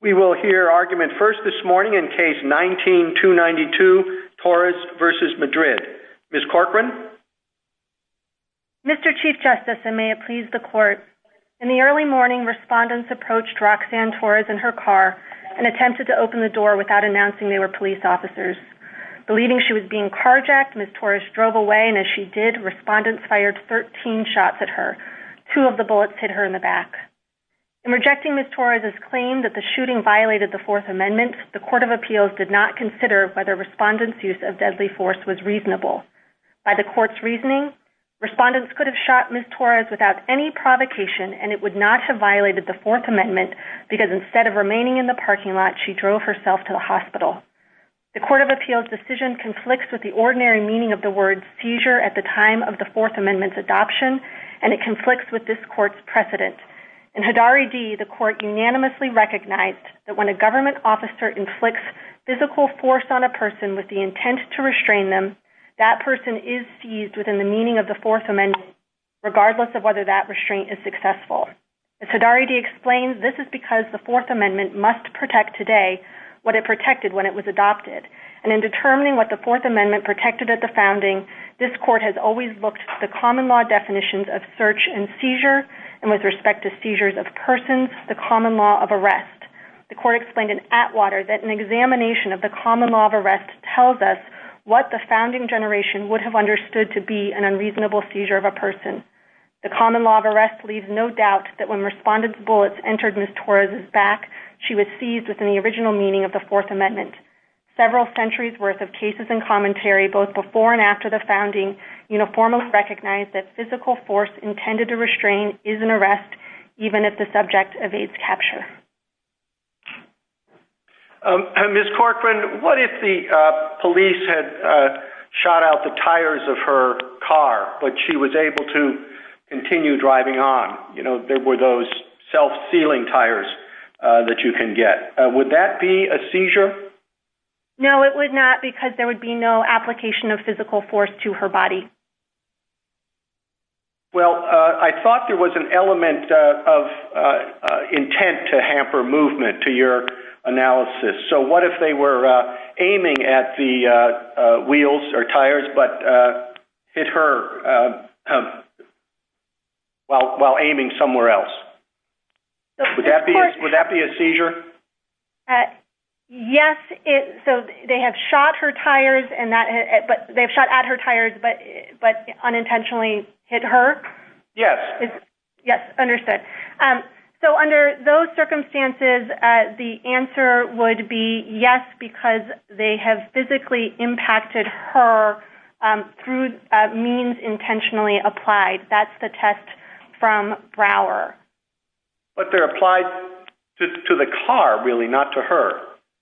We will hear argument first this morning in case 19-292 Torres v. Madrid. Ms. Corcoran? Mr. Chief Justice, and may it please the Court, in the early morning, respondents approached Roxanne Torres in her car and attempted to open the door without announcing they were police officers. Believing she was being carjacked, Ms. Torres drove away, and as she did, respondents fired 13 shots at her. Two of the bullets hit her in the back. In rejecting Ms. Torres' claim that the shooting violated the Fourth Amendment, the Court of Appeals did not consider whether respondents' use of deadly force was reasonable. By the Court's reasoning, respondents could have shot Ms. Torres without any provocation, and it would not have violated the Fourth Amendment because instead of remaining in the parking lot, she drove herself to the hospital. The Court of Appeals' decision conflicts with the ordinary meaning of the word seizure at the time of the Fourth Amendment's adoption, and it conflicts with this Court's that when a government officer inflicts physical force on a person with the intent to restrain them, that person is seized within the meaning of the Fourth Amendment, regardless of whether that restraint is successful. As Hidari explains, this is because the Fourth Amendment must protect today what it protected when it was adopted, and in determining what the Fourth Amendment protected at the founding, this Court has always looked to the common law definitions of search and seizure, and with respect to seizures of persons, the common law of arrest. The Court explained in Atwater that an examination of the common law of arrest tells us what the founding generation would have understood to be an unreasonable seizure of a person. The common law of arrest leaves no doubt that when respondents' bullets entered Ms. Torres' back, she was seized within the original meaning of the Fourth Amendment. Several centuries' worth of cases and commentary, both before and after the founding, uniformly recognized that physical force intended to restrain is an arrest, even if the subject evades capture. Ms. Corcoran, what if the police had shot out the tires of her car, but she was able to continue driving on? There were those self-sealing tires that you can get. Would that be a seizure? No, it would not, because there would be no application of physical force to her body. Well, I thought there was an element of intent to hamper movement to your analysis. So, what if they were aiming at the wheels or tires, but hit her while aiming somewhere else? Would that be a seizure? Yes. So, they have shot at her tires, but unintentionally hit her? Yes. Yes, understood. So, under those circumstances, the answer would be yes, because they have physically impacted her through means intentionally applied. That's the test from Brouwer. But they're applied to the car, really, not to her.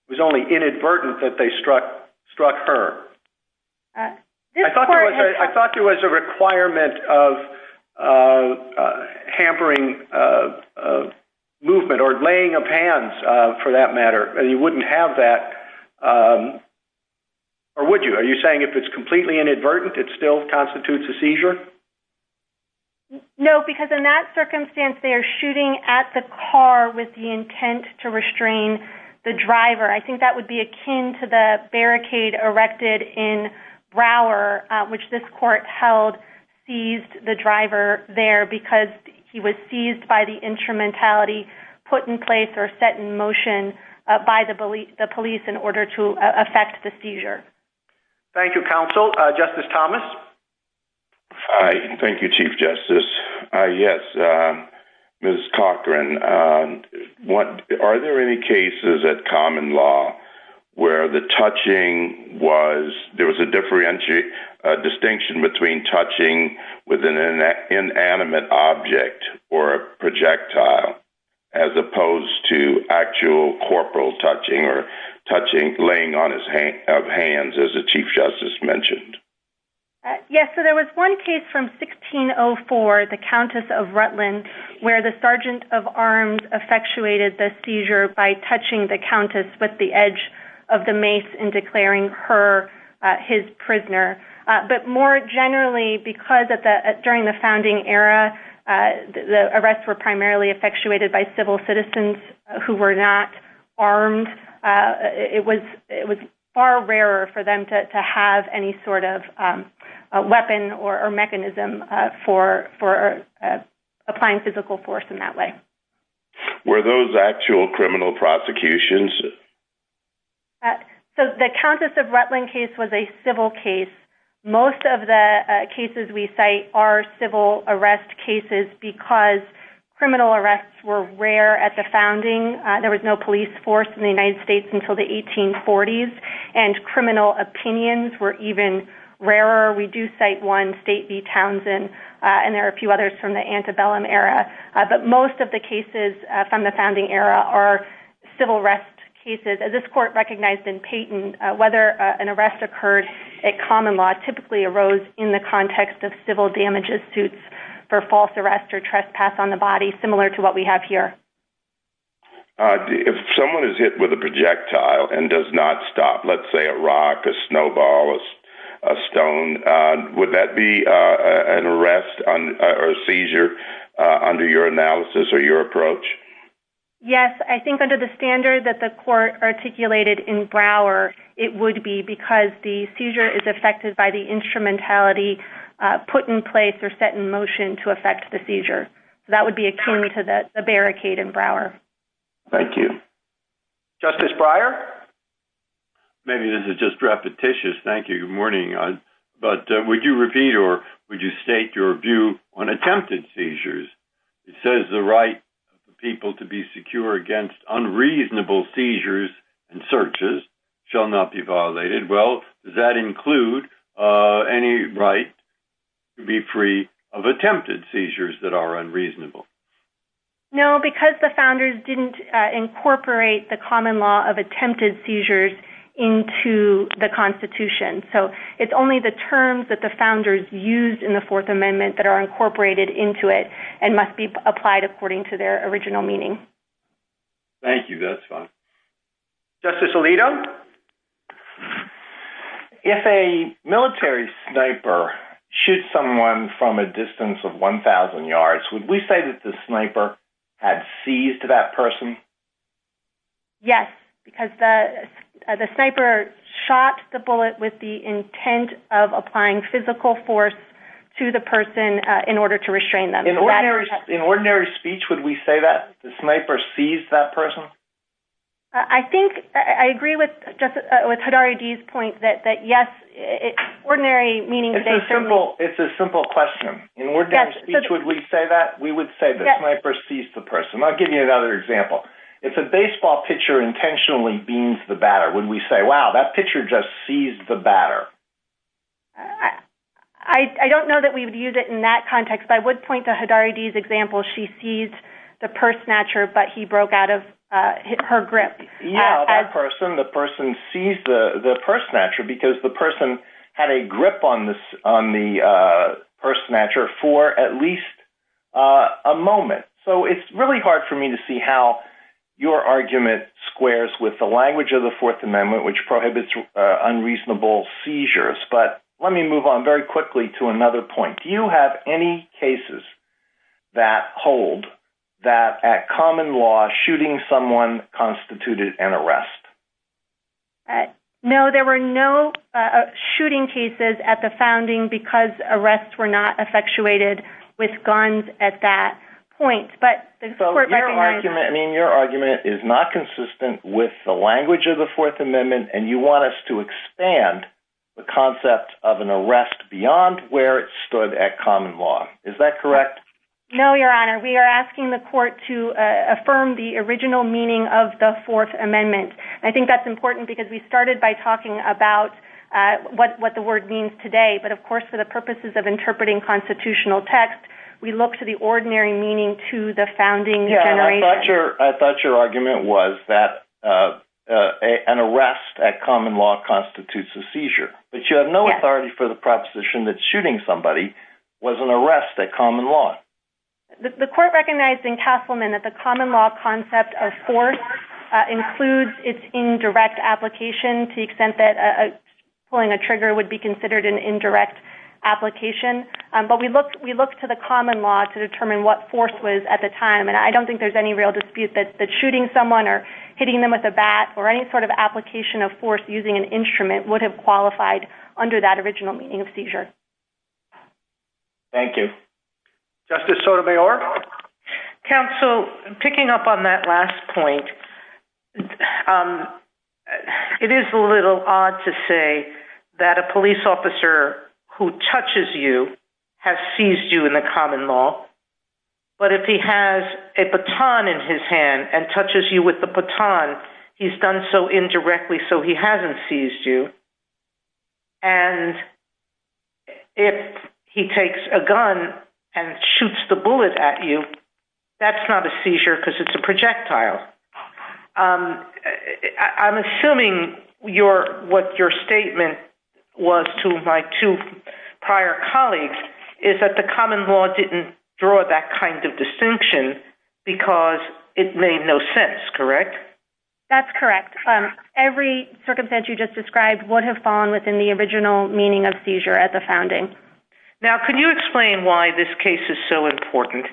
It was only inadvertent that they struck her. I thought there was a requirement of hampering movement or laying of hands, for that matter. You wouldn't have that. Or would you? Are you saying if it's completely inadvertent, it still constitutes a seizure? No, because in that circumstance, they are shooting at the car with the intent to restrain the driver. I think that would be akin to the barricade erected in Brouwer, which this court held seized the driver there because he was seized by the instrumentality put in place or set in motion by the police in order to affect the seizure. Thank you, counsel. Justice Thomas? Hi. Thank you, Chief Justice. Yes, Ms. Cochran, are there any cases at common law where there was a distinction between touching with an inanimate object or a projectile as opposed to actual corporal touching or touching, laying of hands, as the Chief Justice mentioned? Yes. There was one case from 1604, the Countess of Rutland, where the Sergeant of Arms effectuated the seizure by touching the Countess with the edge of the mace and declaring her his prisoner. But more generally, because during the founding era, the arrests were primarily effectuated by civil citizens who were not armed, it was far rarer for them to have any sort of weapon or mechanism for applying physical force in that way. Were those actual criminal prosecutions? So the Countess of Rutland case was a civil case. Most of the cases we cite are civil arrest cases because criminal arrests were rare at the founding. There was no police force in the United States until the 1840s, and criminal opinions were even rarer. We do cite one, State v. Townsend, and there are a few others from the antebellum era. But most of the cases from the founding era are civil arrest cases. This court recognized in Peyton whether an arrest occurred at common law typically arose in the context of civil damages suits for false arrest or trespass on the body, similar to what we have here. If someone is hit with a projectile and does not stop, let's say a rock, a snowball, a stone, would that be an arrest or seizure under your analysis or your approach? Yes. I think under the standard that the court articulated in Brouwer, it would be because the seizure is affected by the instrumentality put in place or set in motion to affect the seizure. So that would be akin to the Maybe this is just repetitious. Thank you. Good morning. But would you repeat or would you state your view on attempted seizures? It says the right for people to be secure against unreasonable seizures and searches shall not be violated. Well, does that include any right to be free of attempted seizures that are unreasonable? No, because the founders didn't incorporate the common law of attempted seizures into the Constitution. So it's only the terms that the founders used in the Fourth Amendment that are incorporated into it and must be applied according to their original meaning. Thank you. That's fine. Justice Alito? If a military sniper shoots someone from a distance of 1,000 yards, would we say that the sniper had seized that person? Yes, because the sniper shot the bullet with the intent of applying physical force to the person in order to restrain them. In ordinary speech, would we say that the sniper seized that person? I think I agree with Hidari-G's point that yes, ordinary meaning It's a simple question. In ordinary speech, would we say that? We would say the sniper seized the person. I'll give you another example. If a baseball pitcher intentionally beams the batter, would we say, wow, that pitcher just seized the batter? I don't know that we would use it in that context, but I would point to Hidari-G's example. She seized the purse snatcher, but he broke out of her grip. The person seized the purse snatcher because the person had a grip on the purse snatcher for at least a moment. It's really hard for me to see how your argument squares with the language of the Fourth Amendment, which prohibits unreasonable seizures. Let me move on very quickly to another point. Do you have any cases that hold that at common law, shooting someone constituted an arrest? No, there were no shooting cases at the founding because arrests were not effectuated with guns at that point. Your argument is not consistent with the language of the Fourth Amendment, and you want us to expand the concept of an arrest beyond where it stood at common law. Is that correct? No, Your Honor. We are asking the court to affirm the original meaning of the Fourth Amendment. I think that's important because we started by talking about what the word means today, but of course for the purposes of interpreting constitutional text, we look to the ordinary meaning to the founding generation. I thought your argument was that an arrest at common law constitutes a seizure, but you have no authority for the proposition that shooting somebody was an arrest at common law. The court recognized in Castleman that common law concept of force includes its indirect application to the extent that pulling a trigger would be considered an indirect application, but we look to the common law to determine what force was at the time. I don't think there's any real dispute that shooting someone or hitting them with a bat or any sort of application of force using an instrument would have qualified under that original meaning of seizure. Thank you. Justice Sotomayor? Counsel, picking up on that last point, it is a little odd to say that a police officer who touches you has seized you in the common law, but if he has a baton in his hand and touches you with the baton, he's done so indirectly so he hasn't seized you, and if he takes a gun and shoots the bullet at you, that's not a seizure because it's a projectile. I'm assuming what your statement was to my two prior colleagues is that the common law didn't draw that kind of distinction because it made no sense, correct? That's correct. Every circumstance you just described would have fallen within the original meaning of seizure at the founding. Now, can you explain why this case is so important?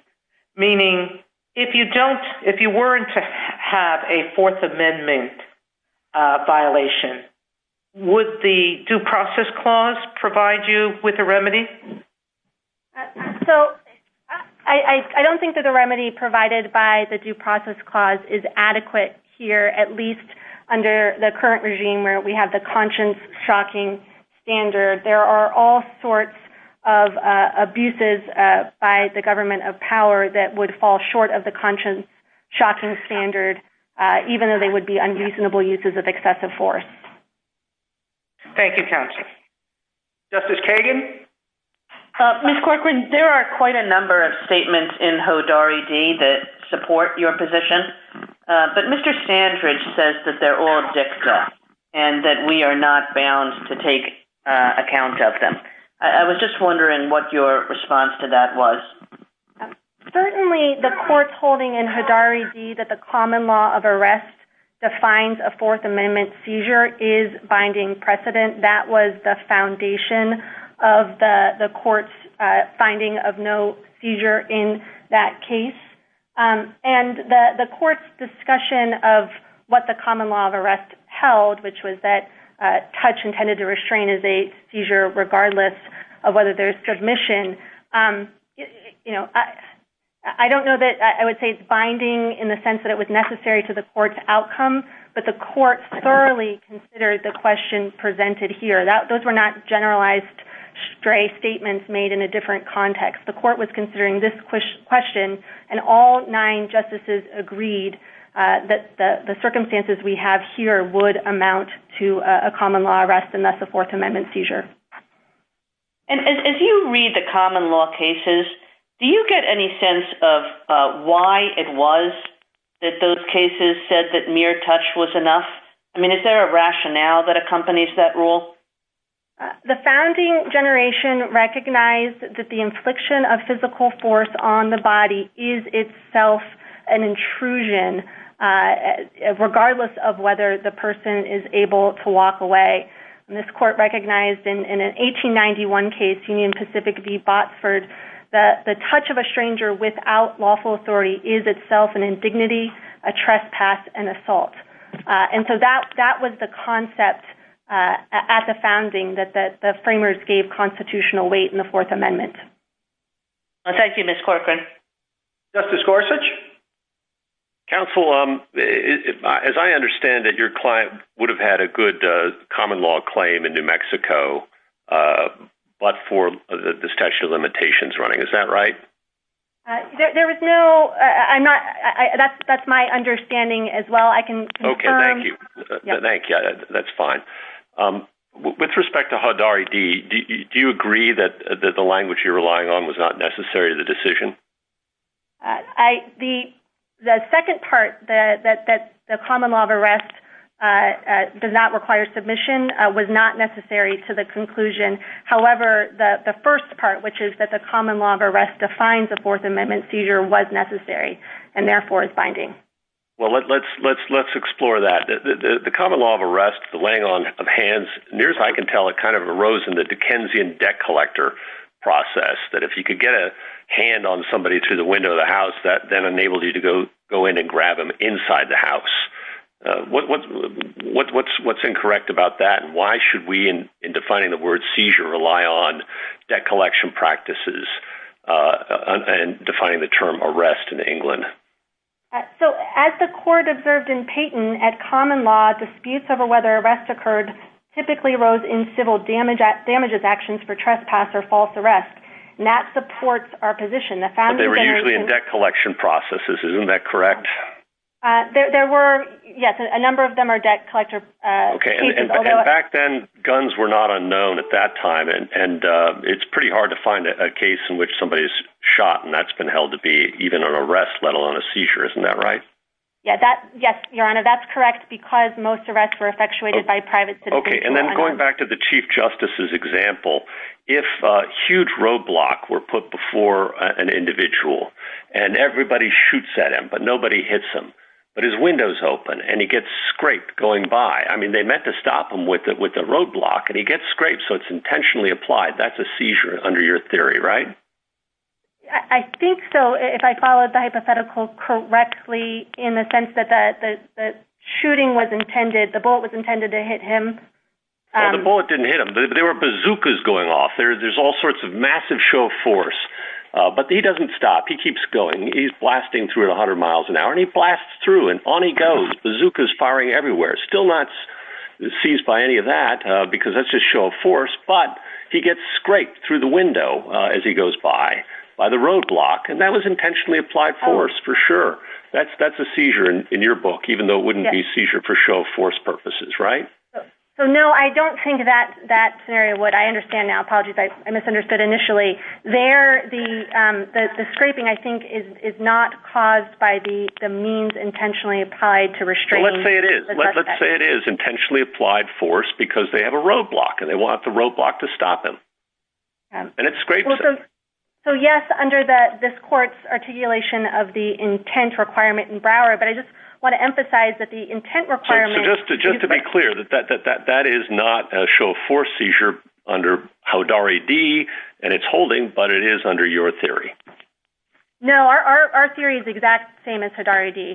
Meaning, if you weren't to have a Fourth Amendment violation, would the Due Process Clause provide you with a remedy? So, I don't think that the remedy provided by the Due Process Clause is adequate here, at least under the current regime where we have the conscience-shocking standard. There are all sorts of abuses by the government of power that would fall short of the conscience-shocking standard, even though they would be unreasonable uses of excessive force. Thank you, counsel. Justice Kagan? Ms. Corcoran, there are quite a number of statements in Hodari D that support your position, but Mr. Sandridge says that they're all dicta and that we are not bound to take account of them. I was just wondering what your response to that was. Certainly, the court's holding in Hodari D that the common law of arrest defines a Fourth Amendment seizure is binding precedent. That was the foundation of the court's finding of no seizure in that case. And the court's discussion of what the common law of arrest held, which was that touch intended to restrain is a seizure regardless of whether there's transmission. I don't know that I would say it's binding in the sense that it was necessary to the court's outcome, but the court thoroughly considered the question presented here. Those were not generalized stray statements made in a different context. The court was considering this question, and all nine justices agreed that the circumstances we have here would amount to a common law arrest, and that's a Fourth Amendment seizure. And if you read the common law cases, do you get any sense of why it was that those cases said that mere touch was enough? I mean, is there a rationale that accompanies that rule? The founding generation recognized that the infliction of physical force on the body is itself an intrusion, regardless of whether the person is able to walk away. This court recognized in an 1891 case, Union Pacific v. Botsford, that the touch of a stranger without lawful authority is itself an indignity, a trespass, and assault. And so that was the concept at the founding that the framers gave constitutional weight in the Fourth Amendment. Thank you, Ms. Corcoran. Justice Gorsuch? Counsel, as I understand it, your client would have had a good common law claim in New Mexico, but for the statute of limitations running. Is that right? There was no... That's my understanding as well. I can confirm. Okay, thank you. Thank you. That's fine. With respect to HUD-RID, do you agree that the language you're relying on was not necessary to the decision? I... The second part, that the common law of arrest does not require submission, was not necessary to the conclusion. However, the first part, which is that the common law of arrest defines a Fourth Amendment seizure, was necessary, and therefore is binding. Well, let's explore that. The common law of arrest, the laying on of hands, near as I can tell, it kind of arose in the Dickensian debt collector process, that if you could get a hand on somebody through the window of the house, that then enabled you to go in and grab them inside the house. What's incorrect about that, and why should we, in defining the word seizure, rely on debt collection practices and defining the term arrest in England? So, as the court observed in Payton, at common law, disputes over whether arrests occurred typically arose in civil damages actions for trespass or false arrests, and that supports our position. But they were usually in debt collection processes, isn't that correct? There were, yes, a number of them are debt collector cases, although... Back then, guns were not unknown at that time, and it's pretty hard to find a case in which somebody's shot, and that's been held to be even an arrest, let alone a seizure, isn't that right? Yeah, that... Yes, Your Honor, that's correct, because most arrests were effectuated by private citizens. Okay, and then going back to the Chief Justice's example, if a huge roadblock were put before an individual, and everybody shoots at him, but nobody hits him, but his window's open, and he gets scraped going by, I mean, they meant to stop him with a roadblock, and he gets scraped, so it's intentionally applied, that's a seizure under your theory, right? I think so, if I followed the hypothetical correctly, in the sense that the shooting the bullet was intended to hit him... Well, the bullet didn't hit him, there were bazookas going off, there's all sorts of massive show of force, but he doesn't stop, he keeps going, he's blasting through at 100 miles an hour, and he blasts through, and on he goes, bazookas firing everywhere, still not seized by any of that, because that's just show of force, but he gets scraped through the window as he goes by, by the roadblock, and that was intentionally applied force, for sure, that's a seizure in your book, even though it wouldn't be seizure for show of force purposes, right? So, no, I don't think that scenario would, I understand now, apologies, I misunderstood initially, there, the scraping, I think, is not caused by the means intentionally applied to restraining... Let's say it is, let's say it is intentionally applied force, because they have a roadblock, and they want the roadblock to stop him, and it scrapes him. So, yes, under this court's articulation of the intent requirement in Brouwer, but I just want to emphasize that the intent requirement... So, just to be clear, that is not a show of force seizure under Haudari D, and it's holding, but it is under your theory. No, our theory is the exact same as Haudari D.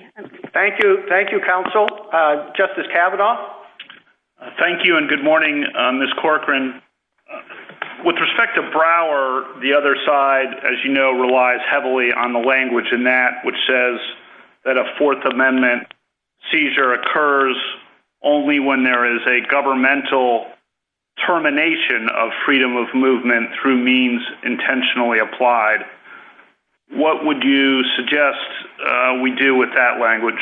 Thank you, thank you, counsel. Justice Kavanaugh. Thank you, and good morning, Ms. Corcoran. With respect to Brouwer, the other side, as you know, relies heavily on the language in that, which says that a Fourth Amendment seizure occurs only when there is a governmental termination of freedom of movement through means intentionally applied. What would you suggest we do with that language?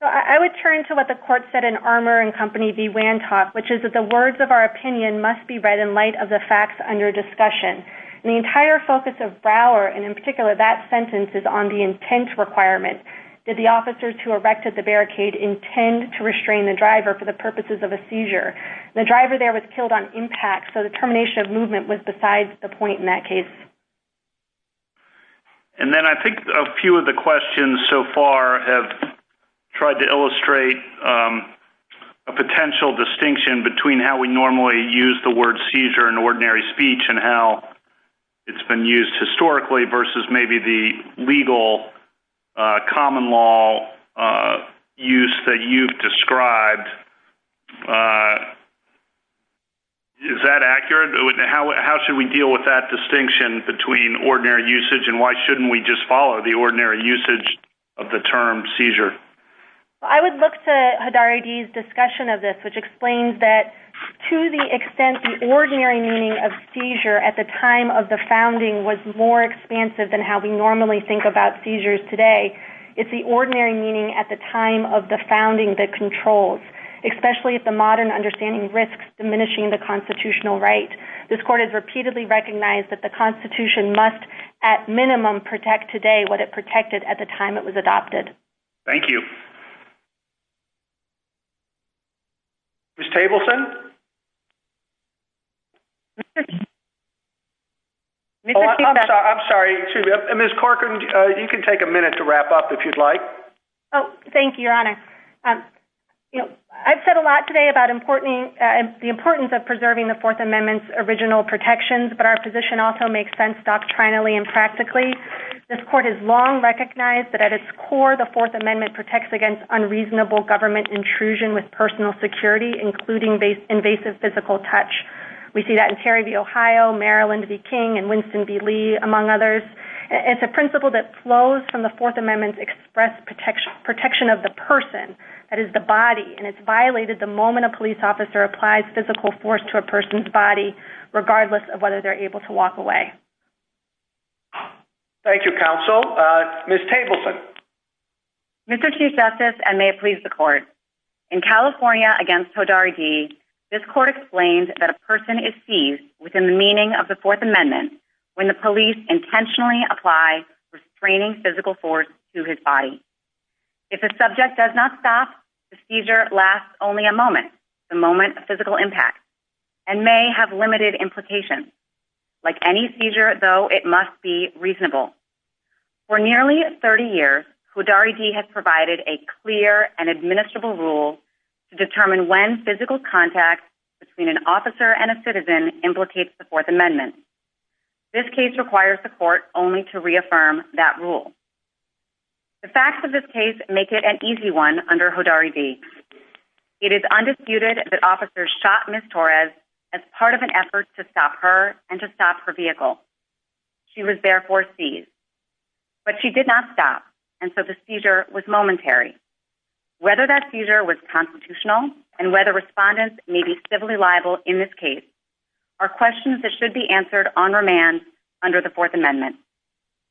So, I would turn to what the court said in Armour and Company v. Wantock, which is that the words of our opinion must be read in light of the facts under discussion. And the entire focus of Brouwer, and in particular that sentence, is on the intent requirement. Did the officers who erected the barricade intend to restrain the driver for the purposes of a seizure? The driver there was killed on impact, so the termination of movement was besides the point in that case. And then I think a few of the questions so far have tried to illustrate a potential distinction between how we normally use the word seizure in ordinary speech and how it's been used historically versus maybe the legal common law use that you've described. Is that accurate? How should we deal with that distinction between ordinary usage and why shouldn't we just follow the ordinary usage of the term seizure? I would look to Hidarigi's discussion of this, which explains that to the extent the ordinary meaning of seizure at the time of the founding was more expansive than how we normally think about seizures today, it's the ordinary meaning at the time of the founding that controls, especially if the modern understanding risks diminishing the constitutional right. This court has repeatedly recognized that the Constitution must at minimum protect today what it protected at the time it was adopted. Thank you. Ms. Tableson? I'm sorry. Ms. Corcoran, you can take a minute to wrap up if you'd like. Thank you, Your Honor. I've said a lot today about the importance of preserving the Fourth Amendment's original protections, but our position also makes sense doctrinally and practically. This court has long recognized that at its core, the Fourth Amendment protects against unreasonable government intrusion with personal security, including invasive physical touch. We see that in Terry v. Ohio, Marilyn v. King, and Winston v. Lee, among others. It's a principle that flows from the Fourth Amendment's express protection of the person, that is the body, and it's violated the moment a police officer applies physical force to a person's body, regardless of whether they're able to walk away. Thank you, counsel. Ms. Tableson? Mr. Chief Justice, and may it please the court, in California against Todaridi, this court explained that a person is seized within the meaning of the Fourth Amendment when the police intentionally apply restraining physical force to his body. If a subject does not stop, the seizure lasts only a moment, the moment of physical impact, and may have limited implications. Like any seizure, though, it must be reasonable. For nearly 30 years, Todaridi has provided a clear and administrable rule to determine when physical contact between an officer and a citizen implicates the Fourth Amendment. This case requires the court only to reaffirm that rule. The facts of this case make it an easy one under Todaridi. It is undisputed that officers shot Ms. Torres as part of an effort to stop her and to stop her vehicle. She was therefore seized. But she did not stop, and so the seizure was momentary. Whether that seizure was constitutional and whether respondents may be civilly liable in this case are questions that should be answered on remand under the Fourth Amendment.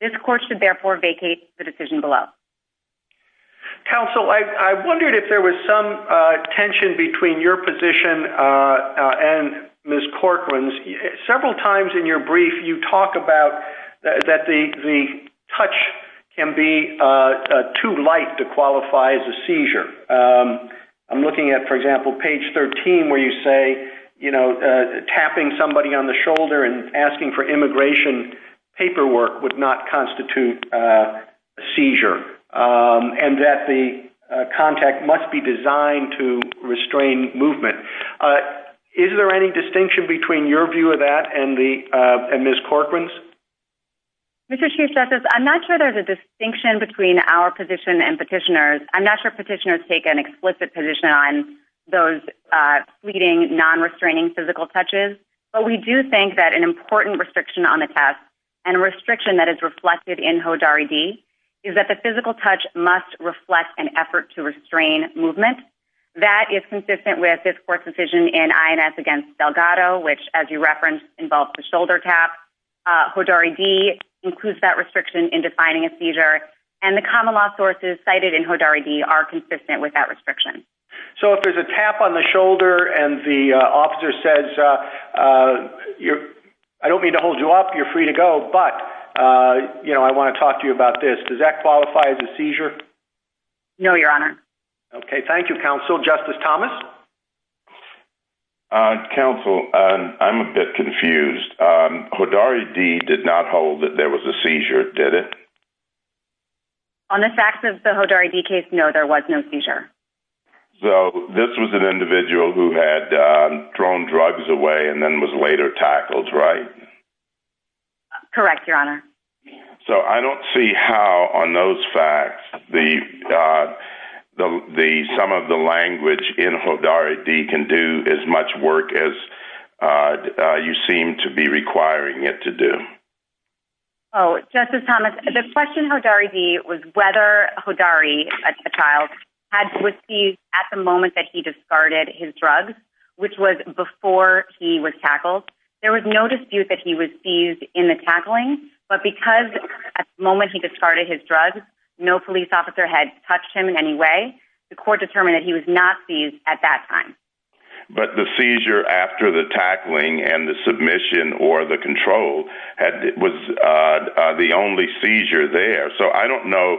This court should therefore vacate the decision below. Counsel, I wondered if there was some tension between your position and Ms. Corcoran's. Several times in your brief, you talk about that the touch can be too light to qualify as a seizure. I'm looking at, for example, page 13, where you say, you know, tapping somebody on the shoulder and asking for immigration paperwork would not constitute a seizure and that the contact must be designed to restrain movement. Is there any distinction between your view of that and Ms. Corcoran's? Mr. Chief Justice, I'm not sure there's a distinction between our position and petitioners. I'm not sure petitioners take an explicit position on those fleeting, non-restraining physical touches, but we do think that an important restriction on the test and restriction that is reflected in HODAR-ED is that the physical touch must reflect an effort to restrain movement. That is consistent with this court's decision in INS against Delgado, which, as you referenced, involves the shoulder tap. HODAR-ED includes that restriction in defining a seizure, and the common law sources cited in HODAR-ED are consistent with that restriction. So if there's a tap on the shoulder and the officer says, I don't mean to hold you up, you're free to go, but, you know, I want to talk to you about this, does that qualify as a seizure? No, Your Honor. Okay, thank you, Counsel. Justice Thomas? Counsel, I'm a bit confused. HODAR-ED did not hold that there was a seizure, did it? On the facts of the HODAR-ED case, no, there was no seizure. So this was an individual who had thrown drugs away and then was later tackled, right? Correct, Your Honor. So I don't see how on those facts some of the language in HODAR-ED can do as much work as you seem to be requiring it to do. Oh, Justice Thomas, the question in HODAR-ED was whether HODAR-ED, as a child, had to be seized at the moment that he discarded his drugs, which was before he was tackled. There was no dispute that he was seized in the tackling, but because at the moment he discarded his drugs, no police officer had touched him in any way, the court determined that he was not seized at that time. But the seizure after the tackling and the submission or the control was the only seizure there. So I don't know.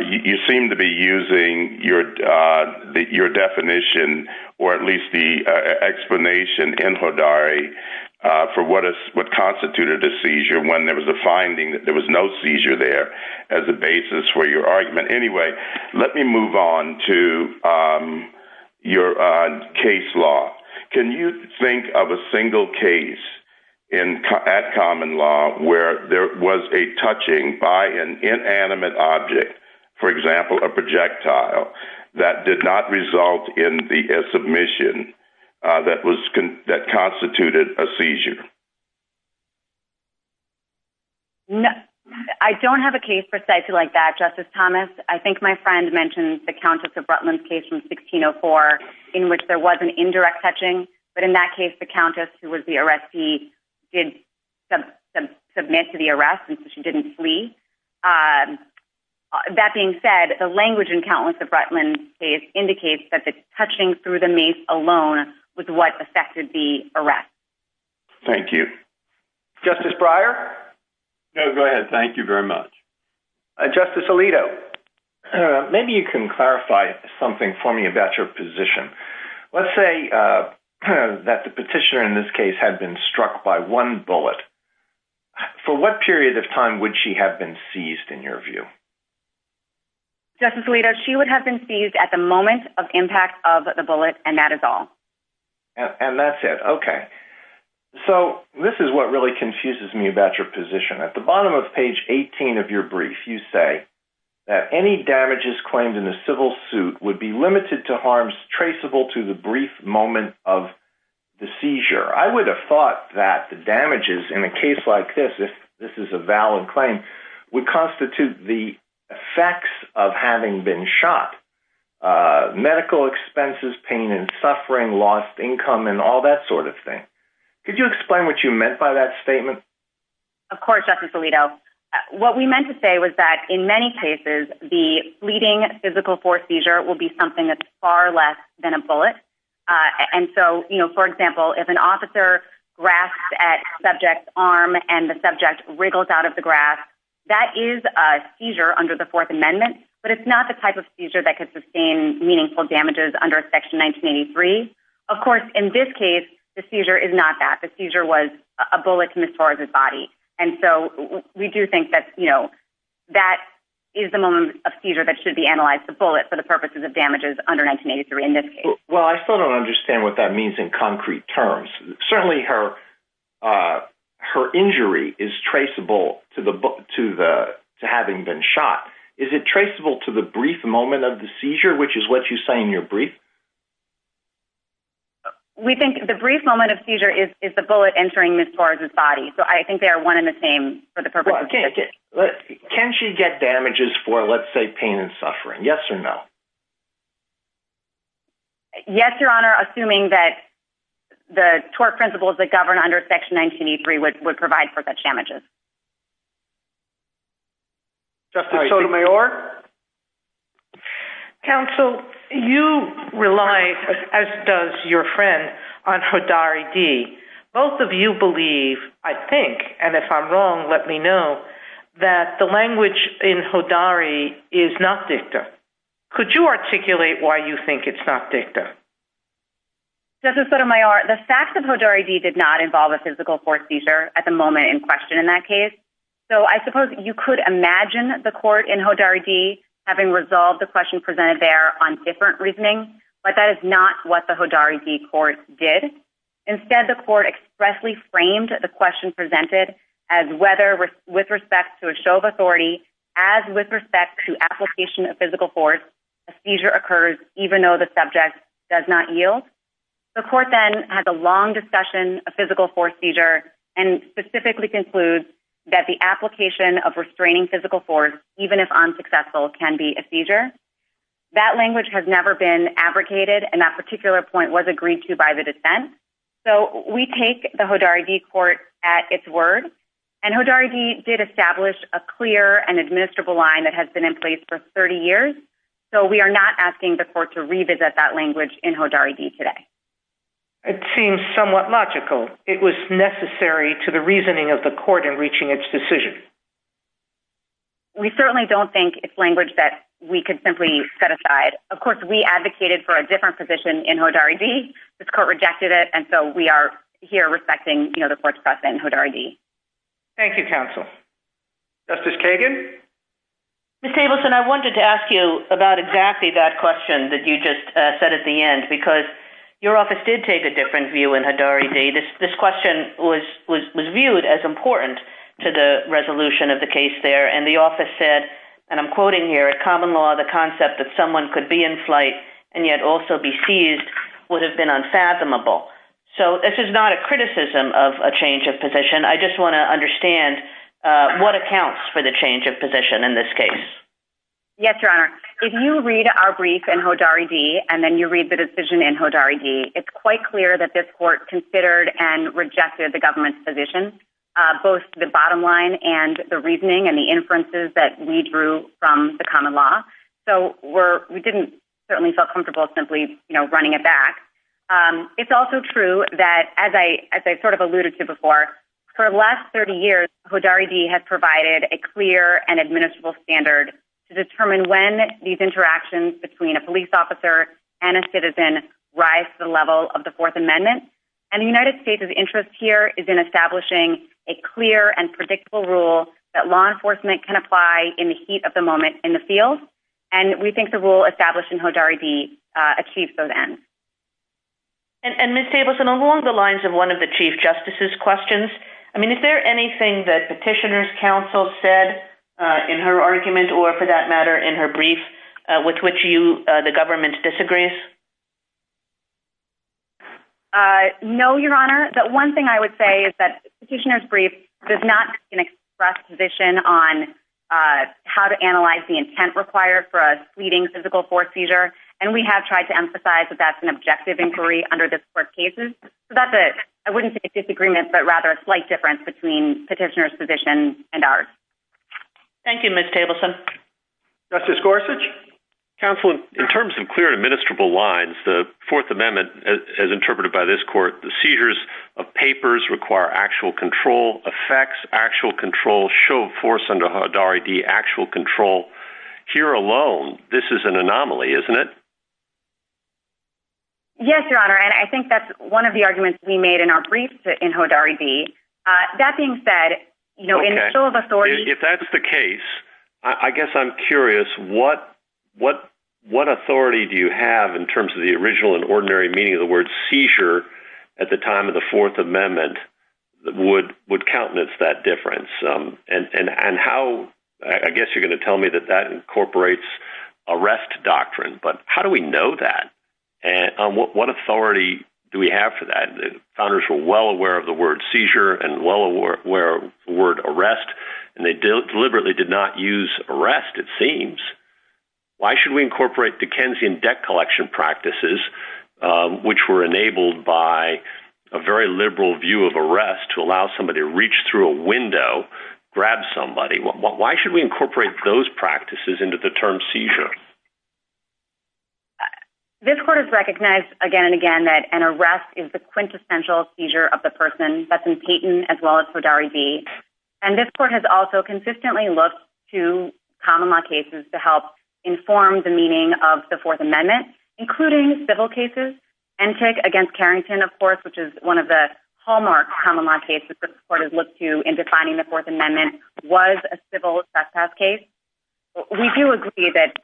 You seem to be using your definition or at least the explanation in HODAR-ED for what constituted the seizure when there was a finding that there was no seizure there as a basis for your argument. Anyway, let me move on to your case law. Can you think of a single case at common law where there was a touching by an inanimate object, for example, a projectile, that did not result in the submission that constituted a seizure? I don't have a case precisely like that, Justice Thomas. I think my friend mentioned the Countess touching, but in that case, the Countess who was the arrestee did submit to the arrest and she didn't flee. That being said, the language in Countless of Rutland's case indicates that the touching through the mace alone was what affected the arrest. Thank you. Justice Breyer? No, go ahead. Thank you very much. Justice Alito, maybe you can clarify something for me about your position. Let's say that the petitioner in this case had been struck by one bullet. For what period of time would she have been seized in your view? Justice Alito, she would have been seized at the moment of impact of the bullet and that is all. And that's it. Okay. So this is what really confuses me about your position. At the bottom of page 18 of your brief, you say that any damages claimed in a civil suit would be limited to harms traceable to the brief moment of the seizure. I would have thought that the damages in a case like this, if this is a valid claim, would constitute the effects of having been shot. Medical expenses, pain and suffering, lost income, and all that sort of thing. Could you explain what you meant by that statement? Of course, Justice Alito. What we meant to say was that in many cases, the fleeting physical force seizure will be something that's far less than a bullet. And so, for example, if an officer grasped at subject's arm and the subject wriggled out of the grasp, that is a seizure under the Fourth Amendment, but it's not the type of seizure that could sustain meaningful damages under Section 1983. Of course, in this case, the seizure is not that. The seizure was a bullet to Ms. Torres' body. And so, we do think that, you know, that is the moment of seizure that should be analyzed to pull it for the purposes of damages under 1983 in this case. Well, I still don't understand what that means in concrete terms. Certainly, her injury is traceable to having been shot. Is it traceable to the brief moment of the seizure, which is what you say in your brief? We think the brief moment of seizure is the bullet entering Ms. Torres' body. So, I think they are one and the same for the purpose of… Can she get damages for, let's say, pain and suffering? Yes or no? Yes, Your Honor, assuming that the tort principles that govern under Section 1983 would provide for such damages. Justice Sotomayor? Counsel, you rely, as does your friend, on Hodari-D. Both of you believe, I think, and if I'm wrong, let me know, that the language in Hodari is not dicta. Could you articulate why you think it's not dicta? Justice Sotomayor, the facts of Hodari-D did not involve a physical force seizure at the moment in question in that case. So, I suppose you could imagine the court in Hodari-D having resolved the question presented there on different reasoning, but that is not what the Hodari-D court did. Instead, the court expressly framed the question presented as whether, with respect to a show of authority, as with respect to application of physical force, a seizure occurs even though the subject does not yield. The court then has a long discussion of physical force seizure and specifically concludes that the application of restraining physical force, even if unsuccessful, can be a seizure. That language has never been abrogated, and that particular point was agreed to by the defense. So, we take the Hodari-D court at its word, and Hodari-D did establish a clear and administrable line that has been in place for 30 years. So, we are not asking the court to revisit that language in Hodari-D today. It seems somewhat logical. It was necessary to the reasoning of the court in reaching its decision. We certainly don't think it's language that we could simply set aside. Of course, we advocated for a different position in Hodari-D. This court rejected it, and so we are here respecting, you know, the court's press in Hodari-D. Thank you, counsel. Justice Kagan? Ms. Tableson, I wanted to ask you about exactly that question, that you just said at the end, because your office did take a different view in Hodari-D. This question was viewed as important to the resolution of the case there, and the office said, and I'm quoting here, at common law, the concept that someone could be in flight and yet also be seized would have been unfathomable. So, this is not a criticism of a change of position. I just want to understand what accounts for the change of position in this case. Yes, Your Honor. If you read our brief in Hodari-D, and then you read the decision in Hodari-D, it's quite clear that this court considered and rejected the government's position, both the bottom line and the reasoning and the inferences that we drew from the common law. So, we didn't certainly feel comfortable simply, you know, running it back. It's also true that, as I sort of alluded to before, for the last 30 years, Hodari-D has provided a clear and administrable standard to determine when these interactions between a police officer and a citizen rise to the level of the Fourth Amendment, and the United States' interest here is in establishing a clear and predictable rule that law enforcement can apply in the heat of the moment in the field, and we think the rule established in Hodari-D achieves those ends. And Ms. Tableson, along the lines of one of the Chief Justice's questions, I mean, is there anything that Petitioner's Counsel said in her argument, or for that matter, in her brief, with which you, the government disagrees? Uh, no, Your Honor. The one thing I would say is that Petitioner's brief does not express position on how to analyze the intent required for a fleeting physical court seizure, and we have tried to emphasize that that's an objective inquiry under this court's cases. So, that's a, I wouldn't say disagreement, but rather a slight difference between Petitioner's position and ours. Thank you, Ms. Tableson. Justice Gorsuch? Counsel, in terms of clear administrable lines, the Fourth Amendment, as interpreted by this court, the seizures of papers require actual control, affects actual control, show force under Hodari-D actual control. Here alone, this is an anomaly, isn't it? Yes, Your Honor, and I think that's one of the arguments we made in our briefs in Hodari-D. That being said, you know, in the show of authority... If that's the case, I guess I'm curious, what authority do you have in terms of the original and ordinary meaning of the word seizure at the time of the Fourth Amendment would countenance that difference? And how, I guess you're going to tell me that that incorporates arrest doctrine, but how do we know that? And what authority do we have for that? The founders were well aware of the word seizure and well aware of the word arrest, and they deliberately did not use arrest, it seems. Why should we incorporate Dickensian debt collection practices, which were enabled by a very liberal view of arrest to allow somebody to reach through a window, grab somebody? Why should we incorporate those practices into the term seizure? This court has recognized again and again that an arrest is the quintessential seizure of the person. That's in Peyton, as well as Hodari-D. And this court has also consistently looked to common law cases to help inform the meaning of the Fourth Amendment, including civil cases. Antic against Carrington, of course, which is one of the hallmark common law cases the court has looked to in defining the Fourth Amendment was a civil trespass case. We do agree that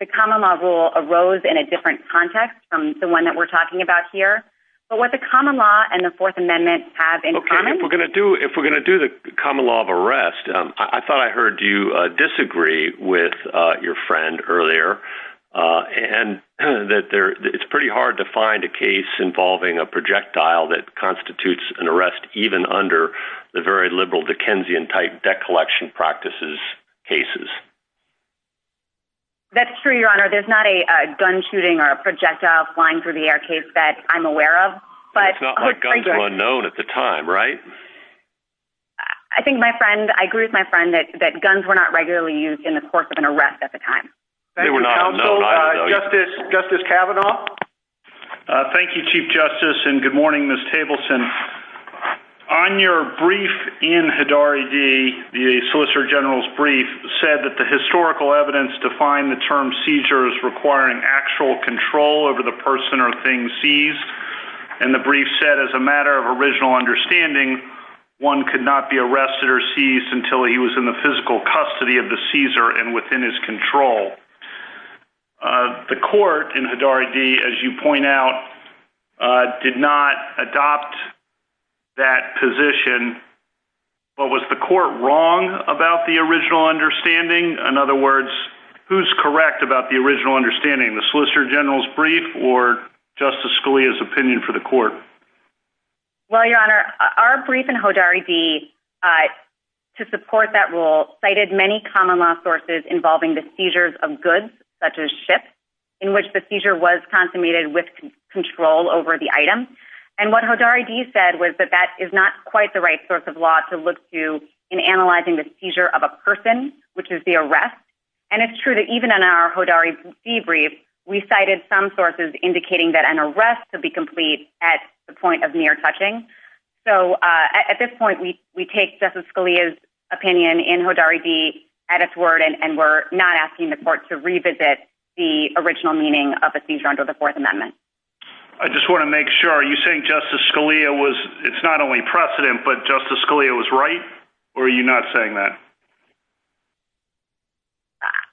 the common law rule arose in a different context from the one that we're talking about here. But what the common law and the Fourth Amendment have in common- Okay, if we're going to do the common law of arrest, I thought I heard you disagree with your friend earlier. And that it's pretty hard to find a case involving a projectile that constitutes an arrest, even under the very liberal Dickensian type debt collection practices cases. That's true, Your Honor. There's not a gun shooting or a projectile flying through the air case that I'm aware of. But- It's not like guns were unknown at the time, right? I think my friend, I agree with my friend that guns were not regularly used in the course of an arrest at the time. They were not known. Justice Kavanaugh. Thank you, Chief Justice. And good morning, Ms. Tableson. On your brief in Hodari-D, the Solicitor General's brief said that the historical evidence defined the term seizure as requiring actual control over the person or thing seized. And the brief said, as a matter of original understanding, one could not be arrested or seized until he was in the physical custody of the seizer and within his control. The court in Hodari-D, as you point out, did not adopt that position. But was the court wrong about the original understanding? In other words, who's correct about the original understanding, the Solicitor General's brief or Justice Scalia's opinion for the court? Well, Your Honor, our brief in Hodari-D, to support that rule, cited many common law sources involving the seizures of goods, such as ships, in which the seizure was consummated with control over the item. And what Hodari-D said was that that is not quite the right source of law to look to in analyzing the seizure of a person, which is the arrest. And it's true that even in our Hodari-D brief, we cited some sources indicating that an arrest could be complete at the point of near touching. So at this point, we take Justice Scalia's Hodari-D at its word and we're not asking the court to revisit the original meaning of the seizure under the Fourth Amendment. I just want to make sure, are you saying Justice Scalia was, it's not only precedent, but Justice Scalia was right? Or are you not saying that?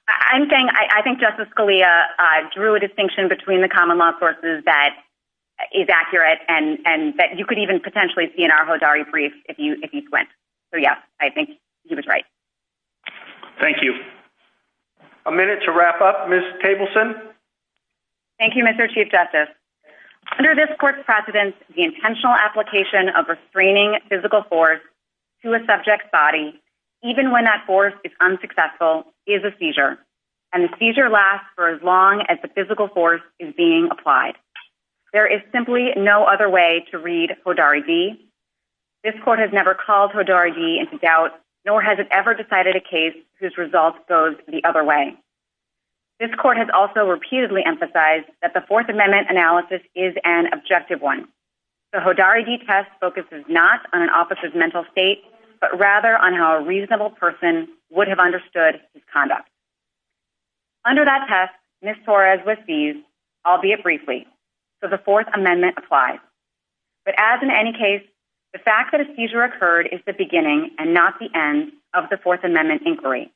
I'm saying, I think Justice Scalia drew a distinction between the common law sources that is accurate and that you could even Thank you. A minute to wrap up, Ms. Tableson. Thank you, Mr. Chief Justice. Under this court's precedent, the intentional application of restraining physical force to a subject's body, even when that force is unsuccessful, is a seizure. And the seizure lasts for as long as the physical force is being applied. There is simply no other way to read Hodari-D. This court has never called decided a case whose results goes the other way. This court has also repeatedly emphasized that the Fourth Amendment analysis is an objective one. The Hodari-D test focuses not on an officer's mental state, but rather on how a reasonable person would have understood his conduct. Under that test, Ms. Torres was seized, albeit briefly. So the Fourth Amendment applies. But as in any case, the fact that a seizure occurred is the beginning and not the end of the Fourth Amendment inquiry.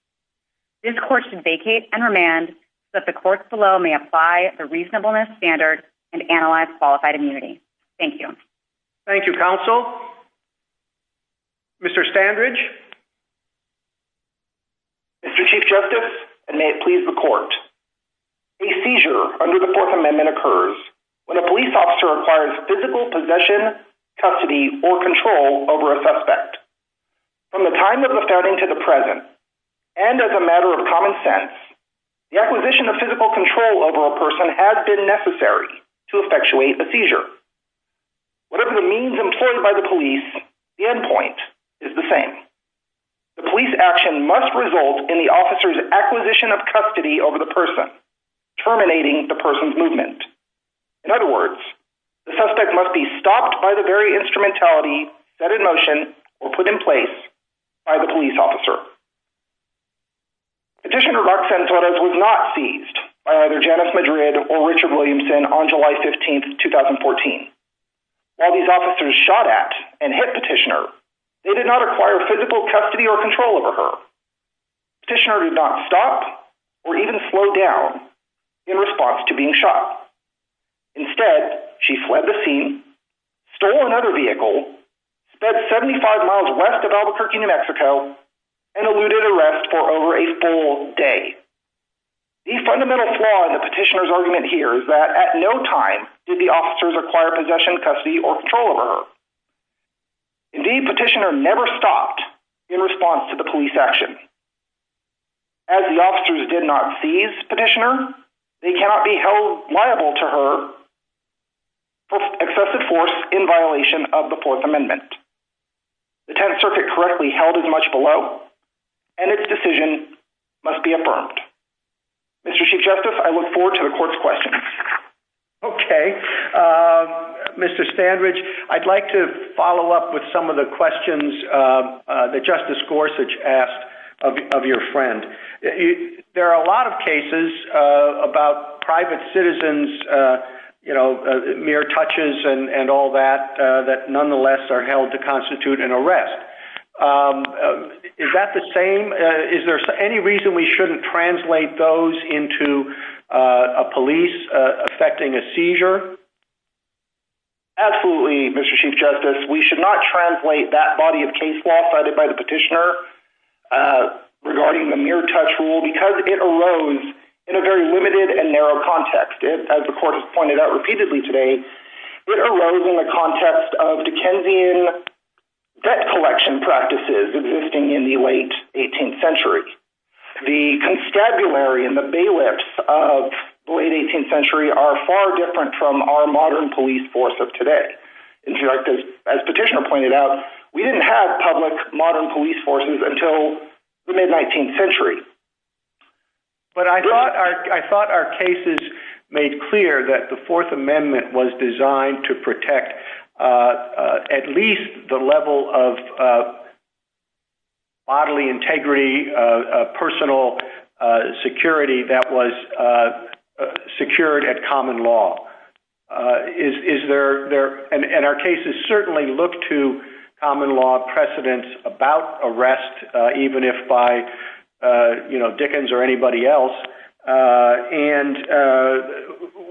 This court should vacate and remand so that the courts below may apply the reasonableness standard and analyze qualified immunity. Thank you. Thank you, counsel. Mr. Standridge. Mr. Chief Justice, and may it please the court. A seizure under the Fourth Amendment occurs when a police officer requires physical possession, custody, or control over a suspect. From the time of the founding to the present, and as a matter of common sense, the acquisition of physical control over a person has been necessary to effectuate a seizure. Whatever the means employed by the police, the endpoint is the same. The police action must result in the officer's acquisition of custody over the person, terminating the person's movement. In other words, the suspect must be stopped by the very instrumentality set in motion or put in place by the police officer. Petitioner Roxanne Torres was not seized by either Janice Madrid or Richard Williamson on July 15, 2014. While these officers shot at and hit Petitioner, they did not acquire physical custody or control over her. Petitioner did not stop or even slow down in response to being shot. Instead, she fled the city, sped 75 miles west of Albuquerque, New Mexico, and eluded arrest for over a full day. The fundamental flaw in Petitioner's argument here is that at no time did the officers acquire possession, custody, or control over her. Indeed, Petitioner never stopped in response to the police action. As the officers did not seize Petitioner, they cannot be held liable to her excessive force in violation of the Fourth Amendment. The 10th Circuit correctly held as much below, and its decision must be affirmed. Mr. Chief Justice, I look forward to the court's questions. Okay. Mr. Standridge, I'd like to follow up with some of the questions that Justice and all that that nonetheless are held to constitute an arrest. Is that the same? Is there any reason we shouldn't translate those into a police affecting a seizure? Absolutely, Mr. Chief Justice. We should not translate that body of case law cited by the Petitioner regarding the mere touch rule because it arose in a very limited and narrow context. As the court has pointed out repeatedly today, it arose in the context of Dickensian debt collection practices existing in the late 18th century. The constabulary and the bailiffs of the late 18th century are far different from our modern police force of today. In fact, as Petitioner pointed out, we didn't have public modern police forces until the mid-19th century. I thought our cases made clear that the Fourth Amendment was designed to protect at least the level of bodily integrity, personal security that was secured at common law. Our cases certainly look to common law precedence about arrest even if by Dickens or anybody else.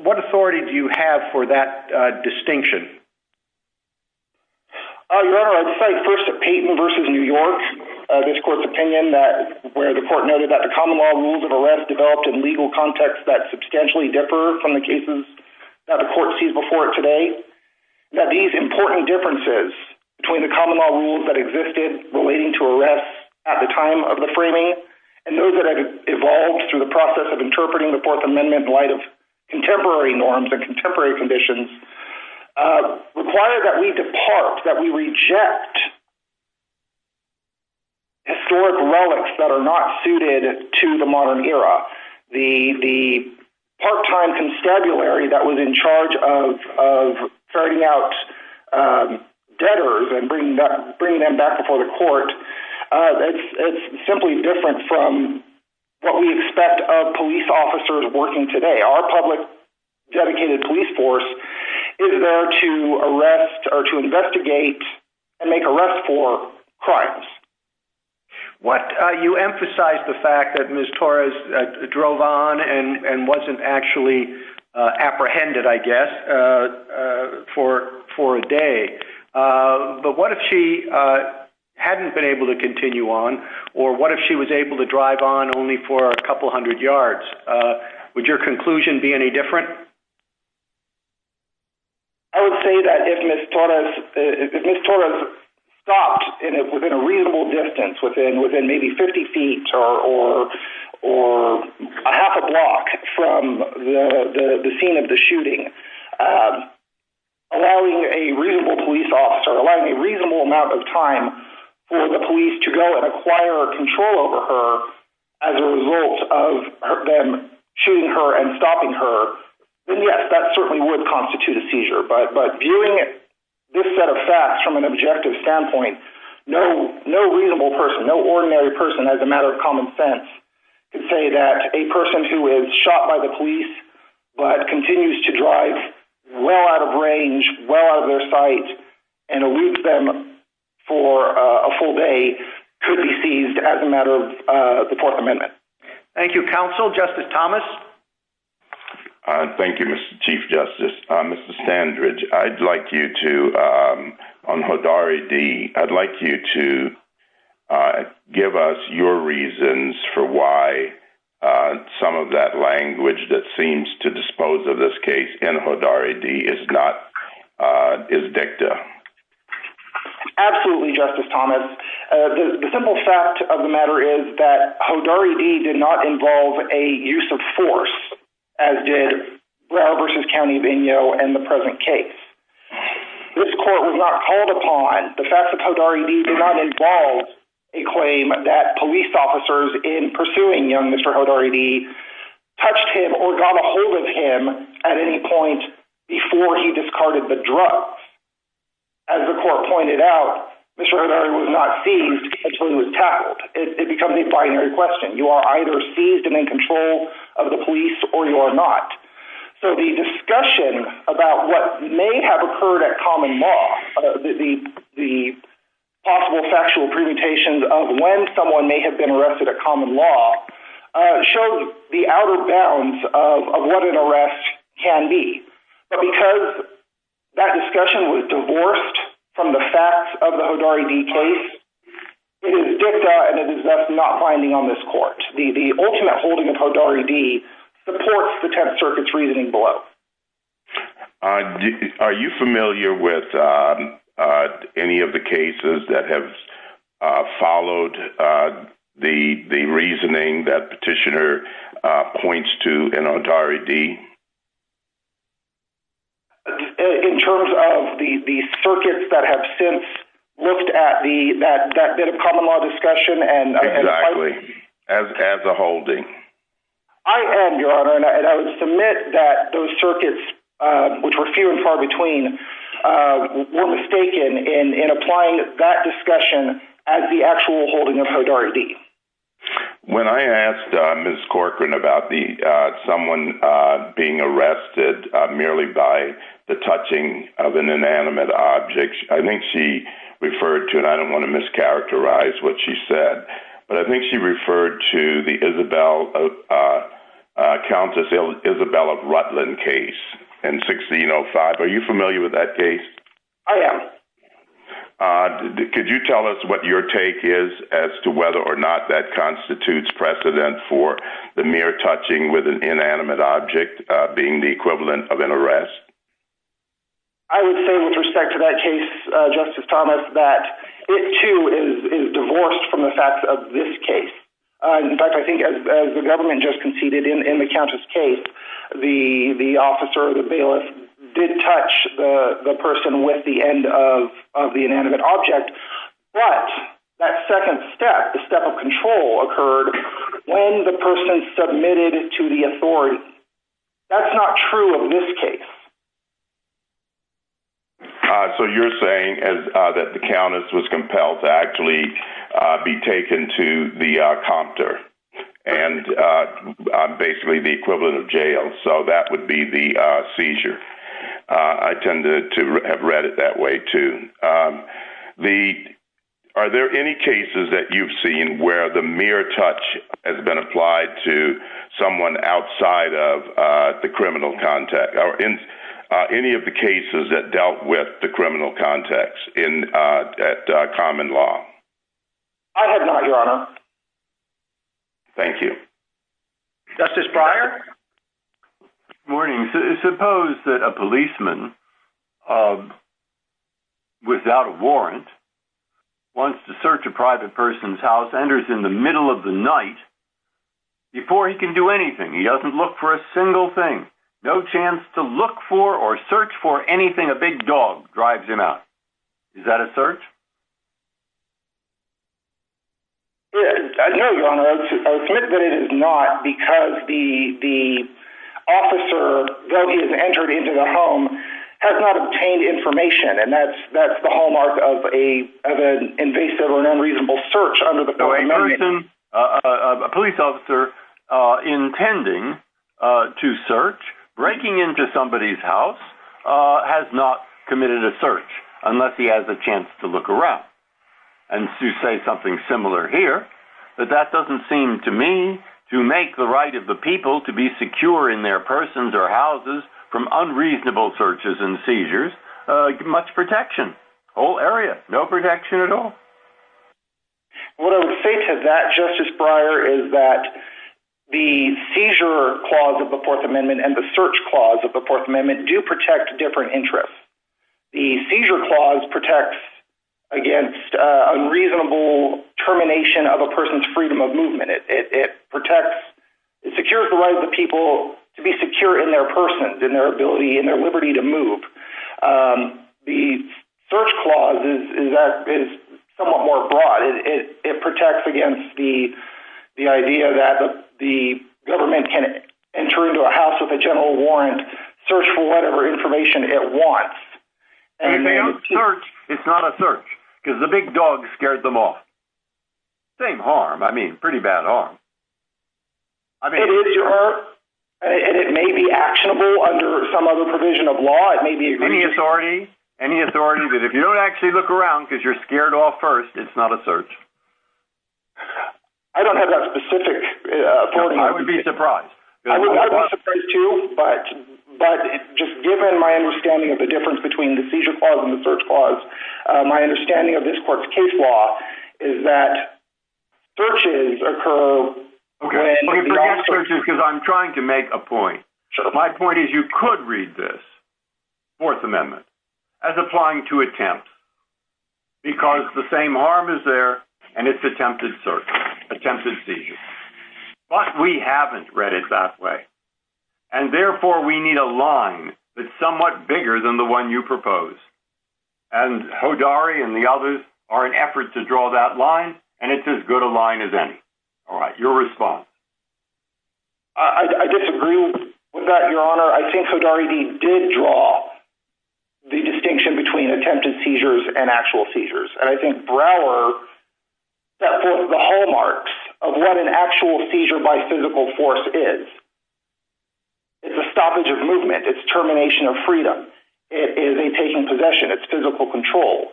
What authority do you have for that distinction? Your Honor, I'd say first to Payton v. New York, this court's opinion that the court noted that the common law rules of arrest developed in legal contexts that substantially differ from the cases that the court sees before it today, that these important differences between the common law rules that existed relating to arrest at the time of the framing and those that have evolved through the process of interpreting the Fourth Amendment in light of contemporary norms and contemporary conditions require that we depart, that we reject historic relics that are not suited to the modern era. The part-time constabulary that was in charge of ferrying out debtors and bringing them back before the court, that's simply different from what we expect of police officers working today. Our public dedicated police force is there to arrest or to investigate and make arrests for whatever reason. Your Honor, Ms. Torres drove on and wasn't actually apprehended, I guess, for a day. But what if she hadn't been able to continue on or what if she was able to drive on only for a couple hundred yards? Would your conclusion be any different? I would say that if Ms. Torres stopped within a reasonable distance, within maybe 50 feet or a half a block from the scene of the shooting, allowing a reasonable police officer, allowing a reasonable amount of time for the police to go and acquire control over her as a result of them shooting her and stopping her, then yes, that certainly would constitute a seizure. But viewing it this set of facts from an objective standpoint, no reasonable person, no ordinary person, as a matter of common sense, can say that a person who is shot by the police but continues to drive well out of range, well out of their sight, and arrests them for a full day could be seized as a matter of the Fourth Amendment. Thank you, counsel. Justice Thomas? Thank you, Mr. Chief Justice. Mr. Sandridge, I'd like you to, on HRDA, I'd like you to give us your reasons for why some of that language that seems to dispose of this case in HODARI-D is dicta. Absolutely, Justice Thomas. The simple fact of the matter is that HODARI-D did not involve a use of force, as did Brow v. County of Indio in the present case. This court was not called upon. The fact that HODARI-D did not involve a claim that police officers in pursuing young Mr. HODARI-D touched him or got a hold of him at any point before he discarded the drug. As the court pointed out, Mr. HODARI-D was not seized until he was tackled. It becomes a binary question. You are either seized and in control of the police or you are not. So the discussion about what may have occurred at common law, the possible sexual permutations of when someone may have been arrested at common law, shows the outer bounds of what an arrest can be. Because that discussion was divorced from the facts of the HODARI-D case, it is dicta and it is not binding on this court. The ultimate holding of HODARI-D supports the Tenth Circuit's reasoning below. Are you familiar with any of the cases that have followed the reasoning that Petitioner points to in HODARI-D? In terms of the circuits that have since looked at that bit of common law and the circuits that were few and far between, were we mistaken in applying that discussion as the actual holding of HODARI-D? When I asked Ms. Corcoran about someone being arrested merely by the touching of an inanimate object, I think she referred to, and I don't want to mischaracterize what she said, but I think she referred to the Countess Isabella Rutland case in 1605. Are you familiar with that case? I am. Could you tell us what your take is as to whether or not that constitutes precedent for the mere touching with an inanimate object being the equivalent of an arrest? I would say with respect to that case, Justice Thomas, that it too is divorced from the facts of this case. In fact, I think as the government just conceded in the Countess case, the officer or the bailiff did touch the person with the end of the inanimate object, but that second step, the step of control, occurred when the person submitted it to the authority. That's not true in this case. You're saying that the Countess was compelled to actually be taken to the compter and basically the equivalent of jail, so that would be the seizure. I tend to have read it that way too. Are there any cases that you've seen where the mere touch has been applied to outside of the criminal context or any of the cases that dealt with the criminal context at common law? I have not, Your Honor. Thank you. Justice Pryor? Suppose that a policeman without a warrant wants to search a private person's house, enters in the middle of the night, before he can do anything. He doesn't look for a single thing. No chance to look for or search for anything a big dog drives him out. Is that a search? No, Your Honor. I submit that it is not because the officer that has entered into the home has not obtained information, and that's the hallmark of an invasive or unreasonable search of a person. A police officer intending to search, breaking into somebody's house, has not committed a search unless he has a chance to look around. And to say something similar here, that that doesn't seem to me to make the right of the people to be secure in their persons or houses from unreasonable searches and seizures much protection. Whole area, no protection at all. What I would say to that, Justice Pryor, is that the seizure clause of the Fourth Amendment and the search clause of the Fourth Amendment do protect different interests. The seizure clause protects against unreasonable termination of a person's freedom of movement. It protects, it secures the right of the people to be secure in their persons, in their ability, in their liberty to move. The search clause is somewhat more broad. It protects against the idea that the government can enter into a house with a general warrant, search for whatever information it wants. It's not a search because the big dog scared them off. Big harm. I mean, pretty bad harm. It is your, and it may be actionable under some other provision of law. Any authority? Any authority that if you don't actually look around because you're scared off first, it's not a search? I don't have that specific authority. I would be surprised. I would be surprised too, but just given my understanding of the difference between the seizure clause and the search clause, my understanding of this court's case law is that searches occur when the officer- Because I'm trying to make a point. My point is you could read this, Fourth Amendment, as applying to attempt because the same harm is there and it's attempted search, attempted seizure. But we haven't read it that way. And therefore, we need a line that's somewhat bigger than the proposed. And Hodari and the others are in efforts to draw that line and it's as good a line as any. All right. Your response? I disagree with that, Your Honor. I think Hodari did draw the distinction between attempted seizures and actual seizures. And I think Brower set forth the hallmarks of what an actual seizure by physical force is. It's a stoppage of movement. It's termination of freedom. It is a taking possession. It's physical control.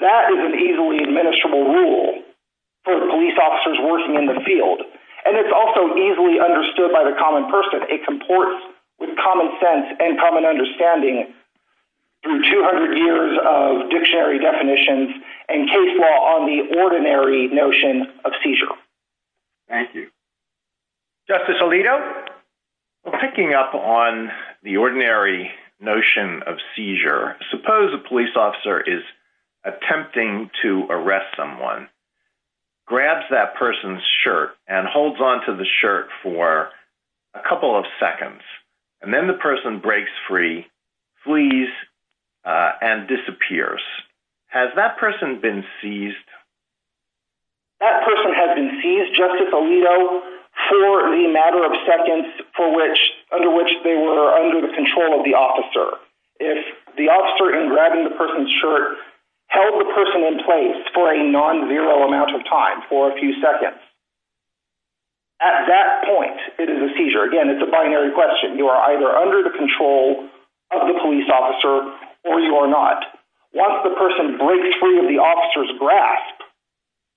That is an easily administrable rule for police officers working in the field. And it's also easily understood by the common person. It comports with common sense and common understanding through 200 years of dictionary definitions and case law on the ordinary notion of seizure. Thank you. Justice Alito? Well, picking up on the ordinary notion of seizure, suppose a police officer is attempting to arrest someone, grabs that person's shirt and holds onto the shirt for a couple of seconds, and then the person breaks free, flees and disappears. Has that person been seized? That person has been seized, Justice Alito, for the matter of seconds under which they were under the control of the officer. If the officer, in grabbing the person's shirt, held the person in place for a non-zero amount of time, for a few seconds, at that point it is a seizure. Again, it's a binary question. You are under the control of the police officer or you are not. Once the person breaks free of the officer's grasp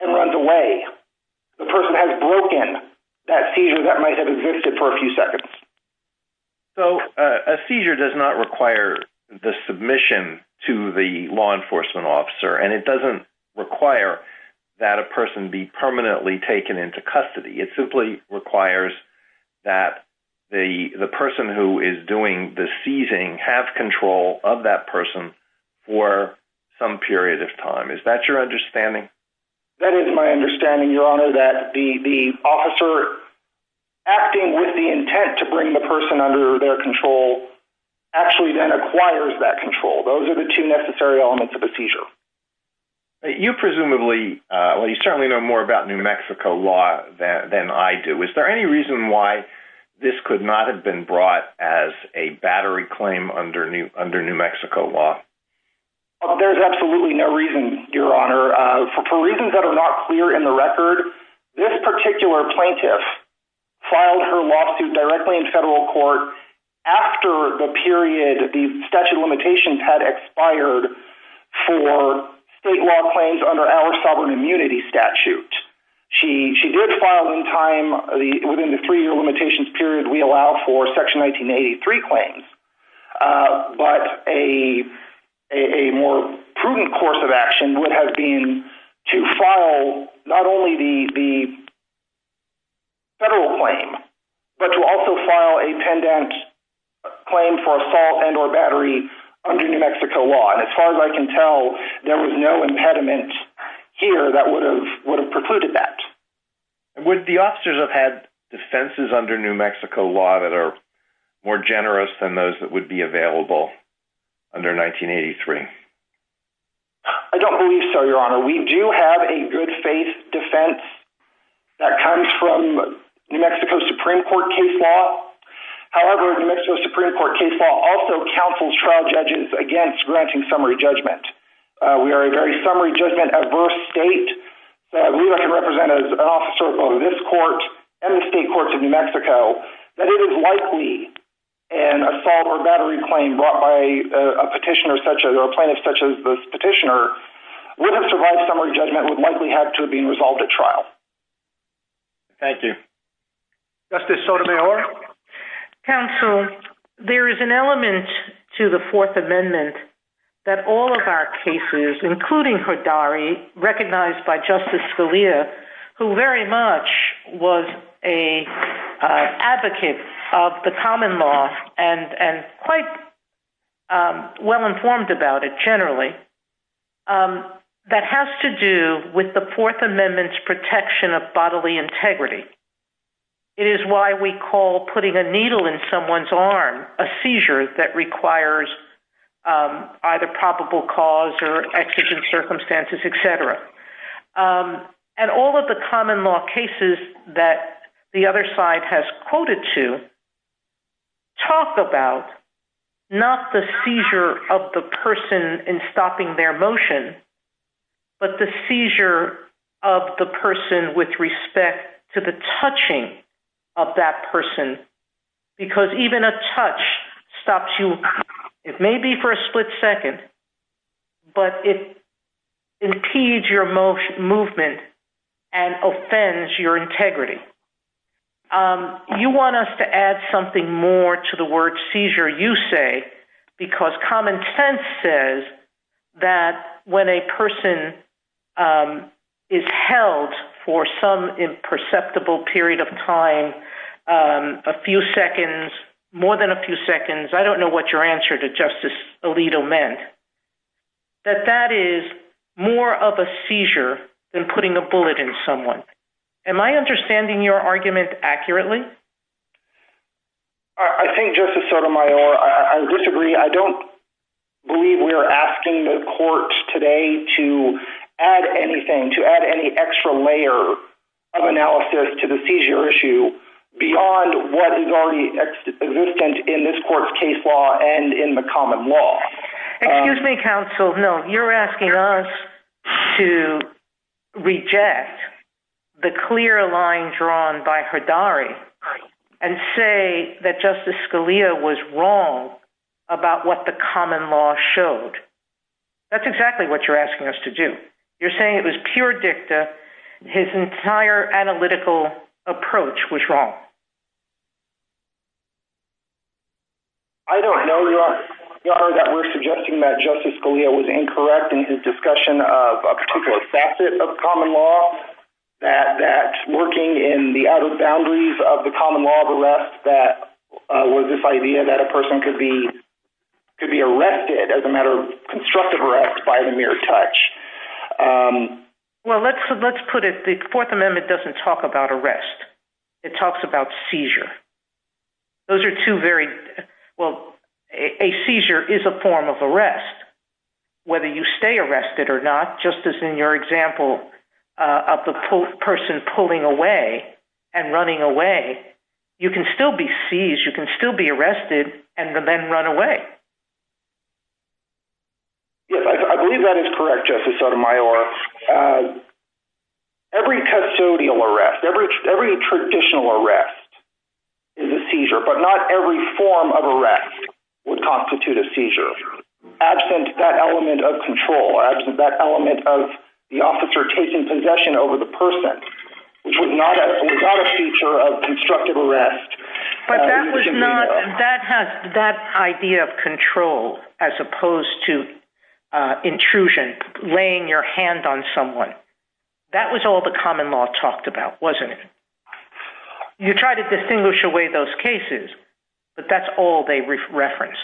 and runs away, the person has broken that seizure that might have existed for a few seconds. So a seizure does not require the submission to the law enforcement officer. And it doesn't require that a person be permanently taken into custody. It simply requires that the person who is doing the seizing have control of that person for some period of time. Is that your understanding? That is my understanding, Your Honor, that the officer acting with the intent to bring the person under their control actually then acquires that control. Those are the two necessary elements of a seizure. You presumably, well you certainly know more about New Mexico law than I do. Is there any reason why this could not have been brought as a battery claim under New Mexico law? There's absolutely no reason, Your Honor. For reasons that are not clear in the record, this particular plaintiff filed her lawsuit directly in federal court after the period the statute of limitations had expired for state law claims under our sovereign immunity statute. She did file in time, within the three-year limitations period we allow for Section 1983 claims. But a more prudent course of action would have been to file not only the federal claim, but to also file a pendent claim for assault and or battery under New Mexico law. As far as I can tell, there was no impediment here that would have would have precluded that. Would the officers have had defenses under New Mexico law that are more generous than those that would be available under 1983? I don't believe so, Your Honor. We do have a good faith defense that comes from New Mexico Supreme Court case law. However, New Mexico Supreme Court case law also counsels trial judges against granting summary judgment. We are a very summary judgment adverse state that we have to represent as an officer of this court and the state courts of New Mexico that it is likely an assault or battery claim brought by a petitioner such a plaintiff such as this petitioner with a survived summary judgment would likely have to have been resolved at trial. Thank you. Justice Sotomayor? Counsel, there is an element to the Fourth Amendment that all of our faith leaders, including Hidari, recognized by Justice Scalia, who very much was a advocate of the common law and quite well informed about it generally, that has to do with the Fourth Amendment's bodily integrity. It is why we call putting a needle in someone's arm a seizure that requires either probable cause or exigent circumstances, etc. And all of the common law cases that the other side has quoted to talk about not the seizure of the person in stopping their motion, but the seizure of the person with respect to the touching of that person, because even a touch stops you. It may be for a split second, but it impedes your movement and offends your integrity. You want us to add something more to the word seizure, you say, because common sense says that when a person is held for some imperceptible period of time, a few seconds, more than a few seconds, I don't know what your answer to Justice Alito meant, that that is more of a seizure than putting a bullet in someone. Am I understanding your argument accurately? I think Justice Sotomayor, I disagree. I don't believe we're asking the courts today to add anything, to add any extra layer of analysis to the seizure issue beyond what is already existent in this court's case law and in the common law. Excuse me, counsel. No, you're asking us to reject the clear line drawn by Hidari and say that Justice Scalia was wrong about what the common law showed. That's exactly what you're asking us to do. You're saying it was pure dicta. His entire analytical approach was wrong. I don't know, Your Honor, that we're suggesting that Justice Scalia was incorrect in his discussion of a particular facet of common law, that working in the outer boundaries of the common law of arrest that was this idea that a person could be arrested, as a matter of constructive arrest, by the mere touch. Well, let's put it, the Fourth Amendment doesn't talk about arrest. It talks about seizure. A seizure is a form of arrest. Whether you stay arrested or not, just as in your example of the person pulling away and running away, you can still be seized, you can still be arrested and then run away. Yes, I believe that is correct, Justice Sotomayor. Every custodial arrest, every traditional arrest is a seizure, but not every form of arrest would constitute a seizure, absent that element of control, absent that element of the officer taking possession over the person, which is not a feature of constructive arrest. But that idea of control, as opposed to intrusion, laying your hand on someone, that was all the common law talked about, wasn't it? You try to distinguish away those cases, but that's all they reference.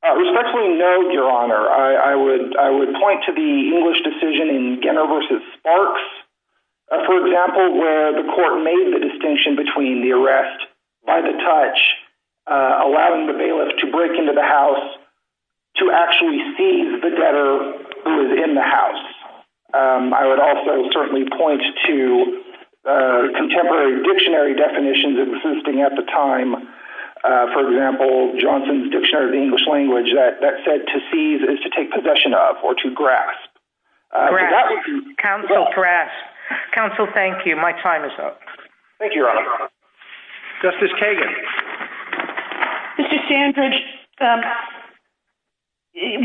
Respectfully noted, Your Honor, I would point to the English decision in Genner v. Sparks, for example, where the court made the distinction between the arrest by the touch, allowing the bailiff to break into the house to actually seize the debtor who was in the house. I would also certainly point to contemporary dictionary definitions existing at the time. For example, Johnson's Dictionary of the English Language that said to seize is to take possession of, or to grasp. Grasp. Counsel, grasp. Counsel, thank you. My time is up. Thank you, Your Honor. Justice Kagan. Mr. Sandridge,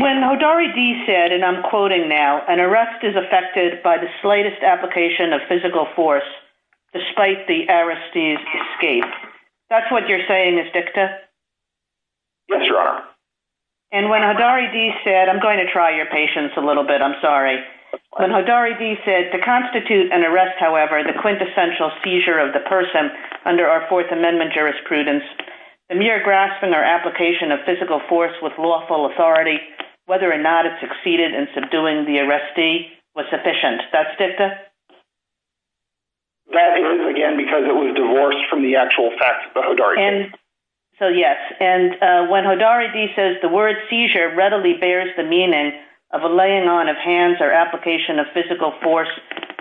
when Hodari D. said, and I'm quoting now, an arrest is affected by the slightest application of physical force, despite the arrestee's escape. That's what you're saying, is that correct? Yes, Your Honor. And when Hodari D. said, I'm going to try your patience a little bit, I'm sorry. When Hodari D. said, to constitute an arrest, however, the quintessential seizure of the person under our Fourth Amendment jurisprudence, the mere grasping or application of physical force with lawful authority, whether or not it succeeded in subduing the arrestee, was sufficient. That's what Hodari D. said. So, yes. And when Hodari D. says, the word seizure readily bears the meaning of a laying on of hands or application of physical force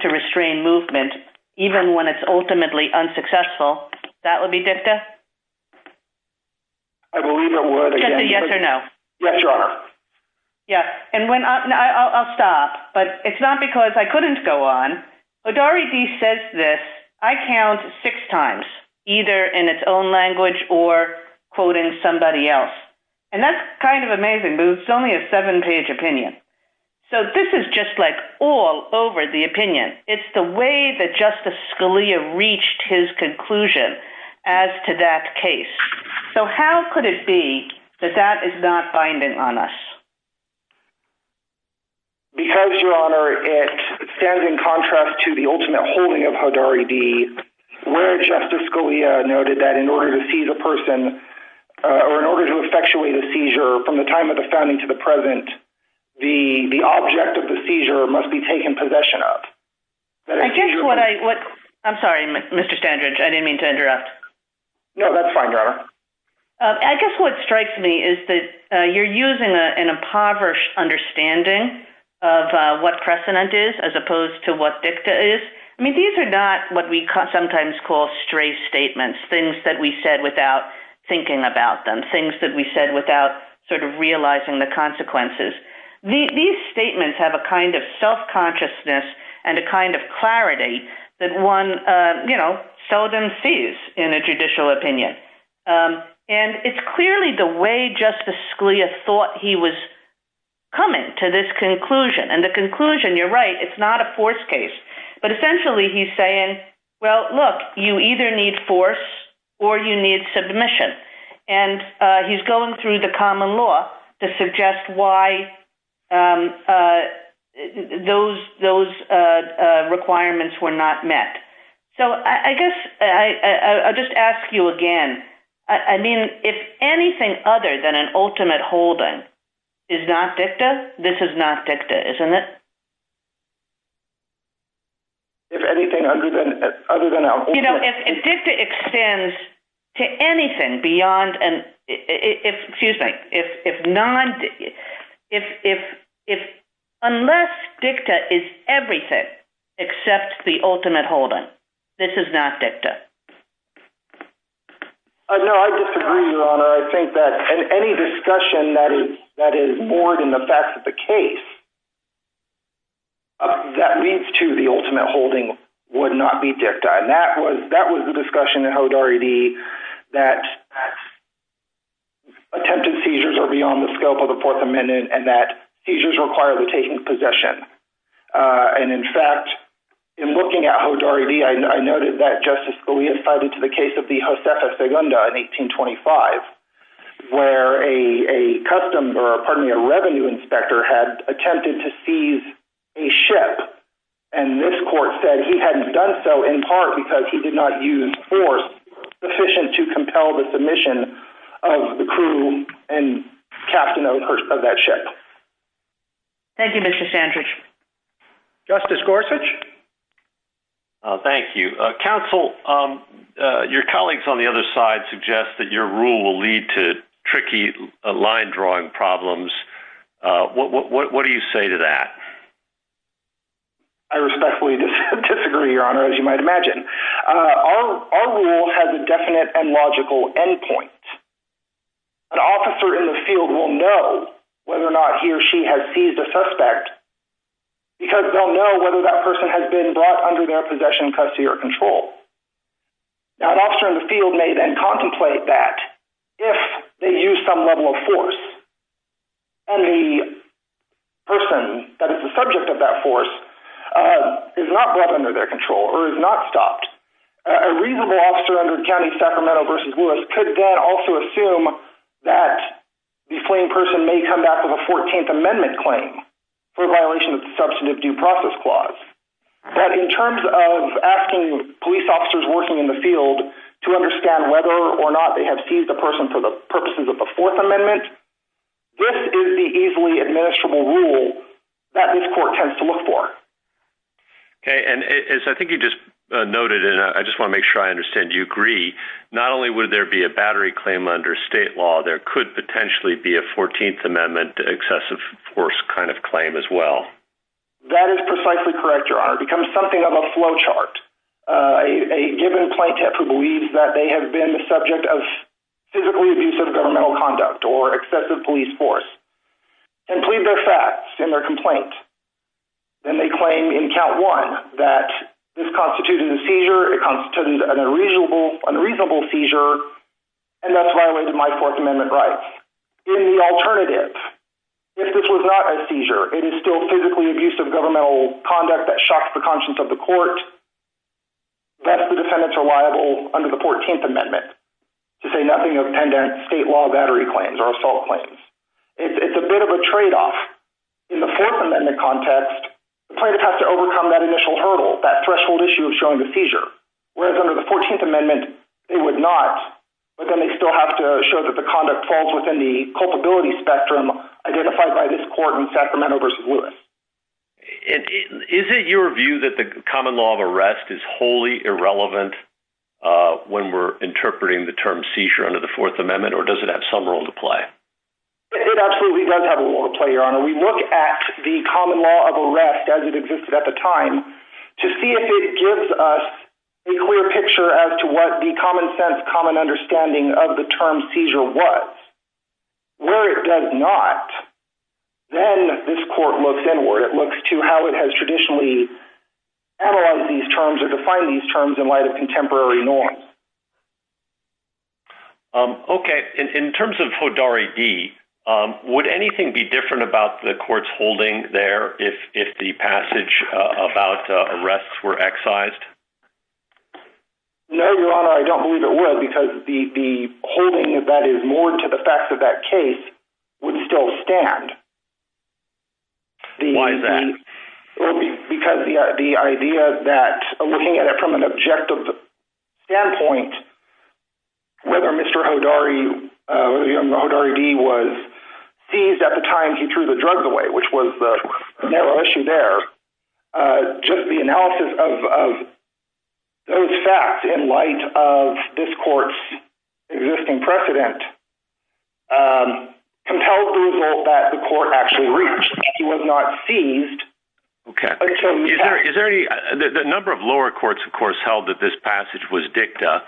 to restrain movement, even when it's ultimately unsuccessful, that would be diphther? I believe it would. Justice, yes or no? Yes, Your Honor. Yes. I'll stop, but it's not because I couldn't go on. Hodari D. says this, I count six times, either in its own language or quoting somebody else. And that's kind of amazing, but it's only a seven page opinion. So, this is just like all over the opinion. It's the way that Justice Scalia reached his conclusion as to that case. So, how could it be that that is not binding on us? Because, Your Honor, it stands in contrast to the ultimate holding of Hodari D. where Justice Scalia noted that in order to seize a person or in order to effectuate a seizure from the time of the founding to the present, the object of the seizure must be taken possession of. I guess what I... I'm sorry, Mr. Standridge. I didn't mean to interrupt. No, that's fine, Your Honor. I guess what strikes me is that you're using an impoverished understanding of what precedent is as opposed to what diphther is. I mean, these are not what we sometimes call stray statements, things that we said without thinking about them, things that we said without sort of realizing the consequences. These statements have a kind of self-consciousness and a kind of clarity that one, you know, seldom sees in a judicial opinion. And it's clearly the way Justice Scalia thought he was coming to this conclusion. And the conclusion, you're right, it's not a forced case. But essentially he's saying, well, look, you either need force or you need submission. And he's going through the common law to suggest why those requirements were not met. So I guess I'll just ask you again. I mean, if anything other than an ultimate holding is not dicta, this is not dicta, isn't it? If anything other than an ultimate— You know, if dicta extends to anything beyond—excuse me, if non—unless dicta is everything except the ultimate holding, this is not dicta. No, I disagree, Your Honor. I think that any discussion that is more than the fact of the case that leads to the ultimate holding would not be dicta. And that was the discussion in Jodari-D that attempted seizures are beyond the scope of the Fourth Amendment and that seizures require the taking of possession. And in fact, in looking at Jodari-D, I noted that Justice Scalia cited to the case of the Josefa Segunda in 1825, where a revenue inspector had attempted to seize a ship. And this court said he hadn't done so in part because he did not use force sufficient to compel the submission of the crew and captain of that ship. Thank you, Mr. Sandridge. Justice Gorsuch? Thank you. Counsel, your colleagues on the other side suggest that your rule will lead to that. I respectfully disagree, Your Honor, as you might imagine. Our rule has a definite and logical endpoint. An officer in the field will know whether or not he or she has seized a suspect because they'll know whether that person has been brought under their possession, custody, or control. An officer in the field may then contemplate that if they use some level of force and the person that is the subject of that force is not brought under their control or is not stopped, a reasonable officer under the County of Sacramento v. Lewis could again also assume that the fleeing person may come back with a Fourteenth Amendment claim for violation of the Substantive Due Process Clause. In terms of asking police officers working in the field to understand whether or not they have seized a person for the purposes of the Fourth Amendment, this is the easily administrable rule that this court tends to look for. Okay, and as I think you just noted, and I just want to make sure I understand you agree, not only would there be a battery claim under state law, there could potentially be a Fourteenth Amendment excessive force kind of claim as well. That is precisely correct, Your Honor. It becomes something of a flow chart. A given plaintiff who believes that they have been the subject of physically abusive governmental conduct or excessive police force can plead their facts in their complaint. Then they claim in count one that this constitutes a seizure, it constitutes an unreasonable, unreasonable seizure, and that's violating my Fourth Amendment rights. In the alternative, if this was not a seizure, it is still physically abusive governmental conduct that shocks the conscience of the court, yes, the defendants are liable under the Fourteenth Amendment to say nothing of pendant state law battery claims or assault claims. It's a bit of a tradeoff. In the Fourth Amendment context, the plaintiff has to overcome that initial hurdle, that threshold issue of showing the seizure, whereas under the Fourteenth Amendment, they would not, but then they still have to show that the conduct falls within the culpability spectrum identified by this court in Sacramento v. Lewis. Is it your view that the common law of arrest is wholly irrelevant when we're interpreting the term seizure under the Fourth Amendment, or does it have some role to play? It absolutely does have a role to play, Your Honor. We look at the common law of arrest as it existed at the time to see if it gives us a clear picture as to what the common sense, common understanding of the term seizure was. Where it does not, then this court looks inward, it looks to how it has traditionally analyzed these terms or defined these terms in light of contemporary norms. Okay. In terms of Hodari D., would anything be different about the court's holding there if the passage about arrests were excised? No, Your Honor, I don't believe it would because the holding that is more to the facts of that case would still stand. Why then? Because the idea that looking at it from an objective standpoint, whether Mr. Hodari D. was seized at the time he threw the drugs away, which was the issue there, just the analysis of those facts in light of this court's existing precedent compelled the result that the court actually reached that he was not seized. Okay. The number of lower courts, of course, held that this passage was dicta.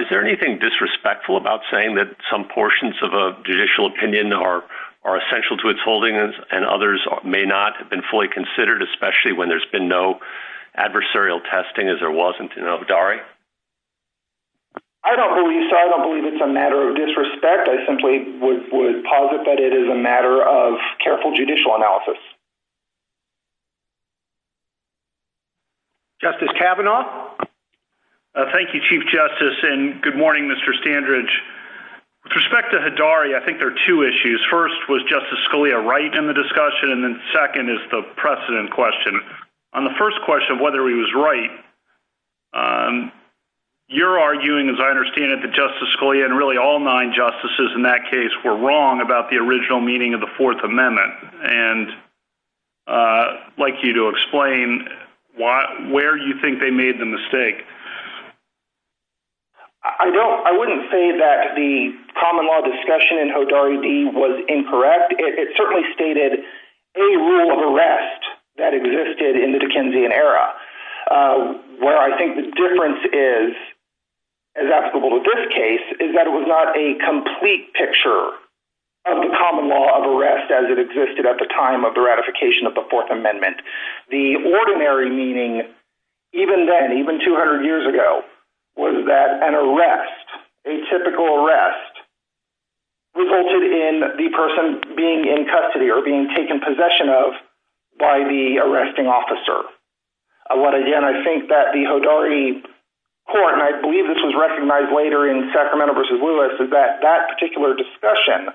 Is there anything disrespectful about saying that some portions of a judicial opinion are essential to its holding and others may not have been fully considered, especially when there's been no adversarial testing as there wasn't in Hodari? I don't believe so. I don't believe it's a matter of disrespect. I simply would posit that it is a matter of careful judicial analysis. Justice Kavanaugh? Thank you, Chief Justice, and good morning, Mr. Standridge. With respect to Hodari, I think there are two issues. First, was Justice Scalia right in the discussion, and then second is the precedent question. On the first question, whether he was right, you're arguing, as I understand it, that Justice Scalia and really all nine justices in that case were wrong about the original meaning of the Fourth Amendment, and I'd like you to explain where you think they made the mistake. I wouldn't say that the common law discussion in Hodari D. was incorrect. It certainly stated a rule of arrest that existed in the Dickensian era, where I think the difference is, as applicable to this case, is that it was not a complete picture of the common law of arrest as it existed at the time of the ratification of the Fourth Amendment. The ordinary meaning, even then, even 200 years ago, was that an arrest, a typical arrest, resulted in the person being in custody or being taken possession of by the arresting officer. Again, I think that the Hodari court, and I believe this was recognized later in Sacramento v. Lewis, is that that particular discussion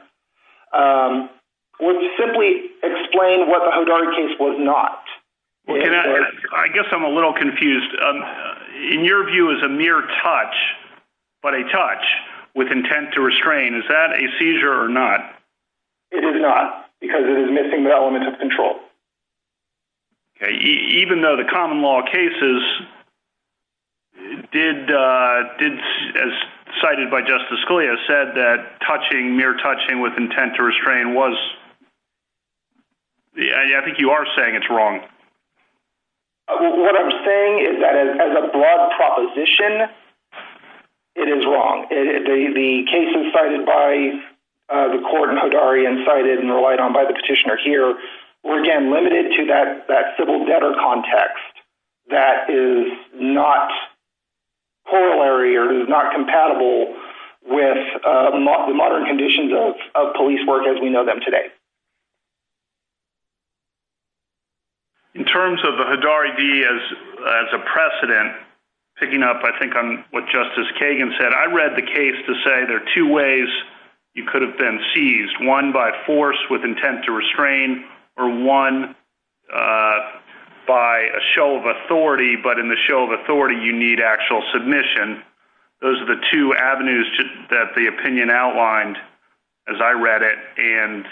would simply explain what the Hodari case was not. I guess I'm a little confused. In your view, it was a mere touch, but a touch with intent to restrain. Is that a seizure or not? It is not, because it is missing the element of control. Even though the common law cases did, as cited by Justice Scalia, said that touching, mere touching with intent to restrain, I think you are saying it's wrong. What I'm saying is that as a broad proposition, it is wrong. The cases cited by the court in Hodari and cited and relied on by the petitioner here were, again, limited to that civil debtor context that is not corollary or is not compatible with the modern conditions of police work as we know them today. In terms of the Hodari D as a precedent, picking up, I think, on what Justice Kagan said, I read the case to say there are two ways you could have been seized, one by force with intent to restrain or one by a show of authority, but in the show of authority, you need actual submission. Those are the two avenues that the opinion outlined, as I read it, and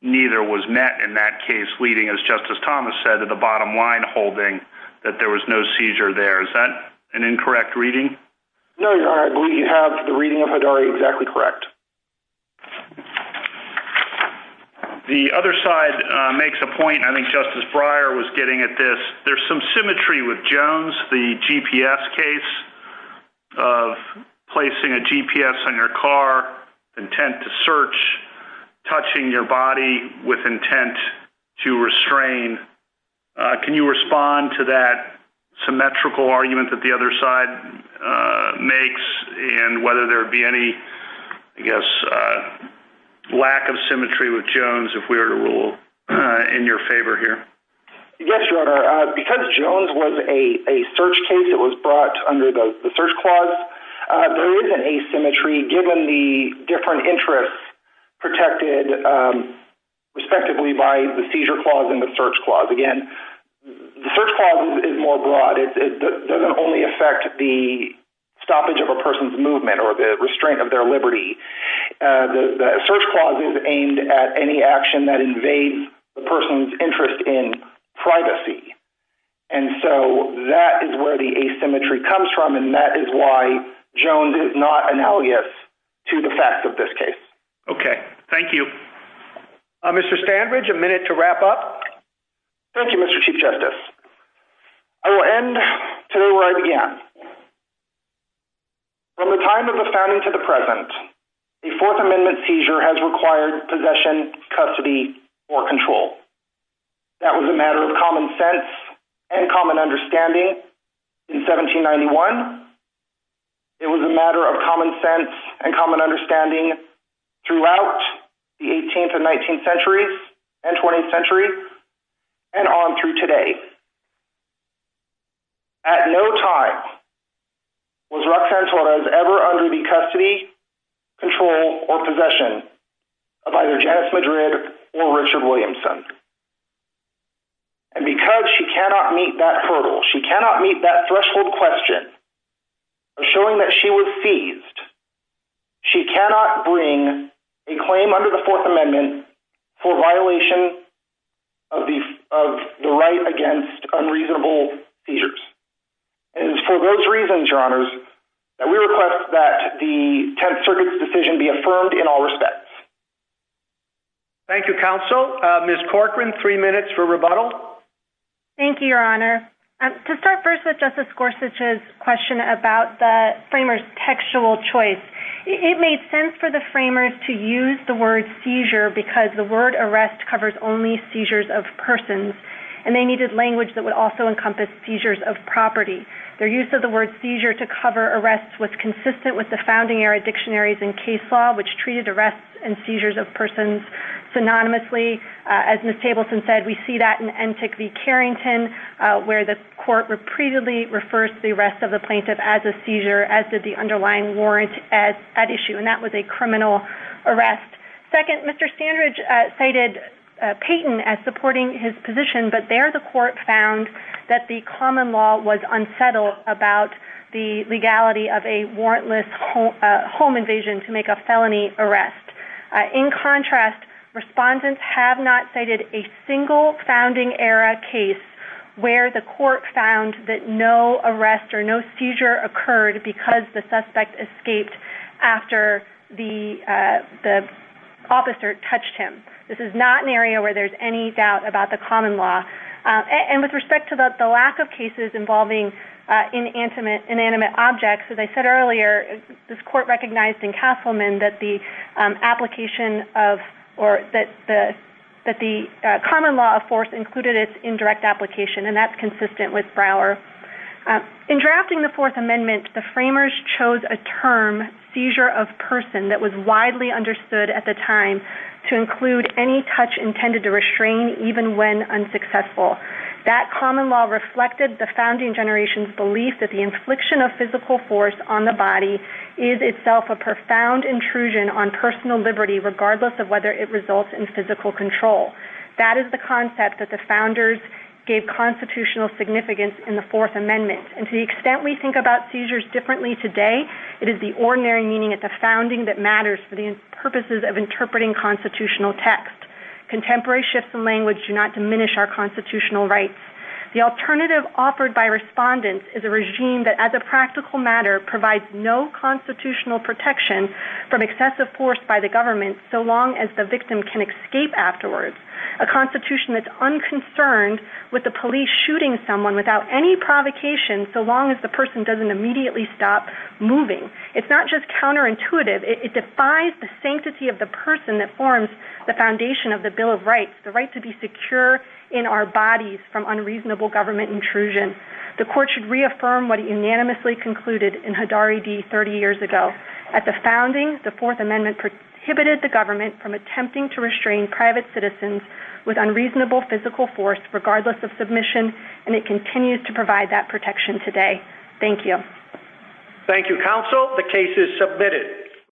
neither was met in that case leading, as Justice Thomas said, to the bottom line holding that there was no seizure there. Is that an incorrect reading? No, Your Honor. I believe you have the reading of Hodari exactly correct. The other side makes a point, and I think Justice Breyer was getting at this. There's some symmetry with Jones, the GPS case of placing a GPS on your car, intent to search, touching your body with intent to restrain. Can you respond to that symmetrical argument that the other side makes and whether there would be any, I guess, lack of symmetry with Jones if we were to rule in your favor here? Yes, Your Honor. Because Jones was a search case that was brought under the search clause, there is an asymmetry given the different interests protected respectively by the seizure clause and the search clause. Again, the search clause is more broad. It doesn't only affect the stoppage of a person's movement or the restraint of their liberty. The search clause is aimed at any action that invades the person's privacy. That is where the asymmetry comes from, and that is why Jones is not an alias to the facts of this case. Okay. Thank you. Mr. Standridge, a minute to wrap up. Thank you, Mr. Chief Justice. I will end where I began. From the time of the founding to the present, a Fourth Amendment seizure has required possession, custody, or control. That was a matter of common sense and common understanding in 1791. It was a matter of common sense and common understanding throughout the 18th and 19th centuries and 20th centuries and on through today. At no time was Roxanne Torres ever under the order of Richard Williamson. Because she cannot meet that hurdle, she cannot meet that threshold question of showing that she was seized, she cannot bring a claim under the Fourth Amendment for violation of the right against unreasonable seizures. For those reasons, Your Honors, we request that the 10th Circuit's decision be affirmed in all respects. Thank you, Counsel. Ms. Corcoran, three minutes for rebuttal. Thank you, Your Honor. To start first with Justice Gorsuch's question about the framers' textual choice, it made sense for the framers to use the word seizure because the word arrest covers only seizures of persons, and they needed language that would also encompass seizures of property. Their use of the word seizure to cover arrests was consistent with the founding era dictionaries and case law, which treated arrests and seizures of persons synonymously. As Ms. Tableton said, we see that in Entik v. Carrington, where the court repeatedly refers to the arrest of the plaintiff as a seizure, as did the underlying warrant at issue, and that was a criminal arrest. Second, Mr. Standridge cited Payton as supporting his position, but there the common law was unsettled about the legality of a warrantless home invasion to make a felony arrest. In contrast, respondents have not cited a single founding era case where the court found that no arrest or no seizure occurred because the suspect escaped after the officer touched him. This is not an area where there's any doubt about the common law. And with respect to the lack of cases involving inanimate objects, as I said earlier, this court recognized in Castleman that the common law of force included its indirect application, and that's consistent with Brower. In drafting the Fourth Amendment, the framers chose a term, seizure of person, that was widely understood at the time to include any touch intended to restrain even when unsuccessful. That common law reflected the founding generation's belief that the infliction of physical force on the body is itself a profound intrusion on personal liberty regardless of whether it results in physical control. That is the concept that the founders gave constitutional significance in the Fourth Amendment. And to the extent we think about seizures differently today, it is the ordinary meaning at the founding that matters for the purposes of interpreting constitutional text. Contemporary shifts in language do not diminish our constitutional rights. The alternative offered by respondents is a regime that as a practical matter provides no constitutional protection from excessive force by the government so long as the victim can escape afterwards. A constitution that's unconcerned with the police shooting someone without any provocation so long as the person doesn't immediately stop moving. It's not just the foundation of the Bill of Rights, the right to be secure in our bodies from unreasonable government intrusion. The court should reaffirm what it unanimously concluded in Hadari v. 30 years ago. At the founding, the Fourth Amendment prohibited the government from attempting to restrain private citizens with unreasonable physical force regardless of submission, and it continues to provide that protection today. Thank you. Thank you, counsel. The case is submitted.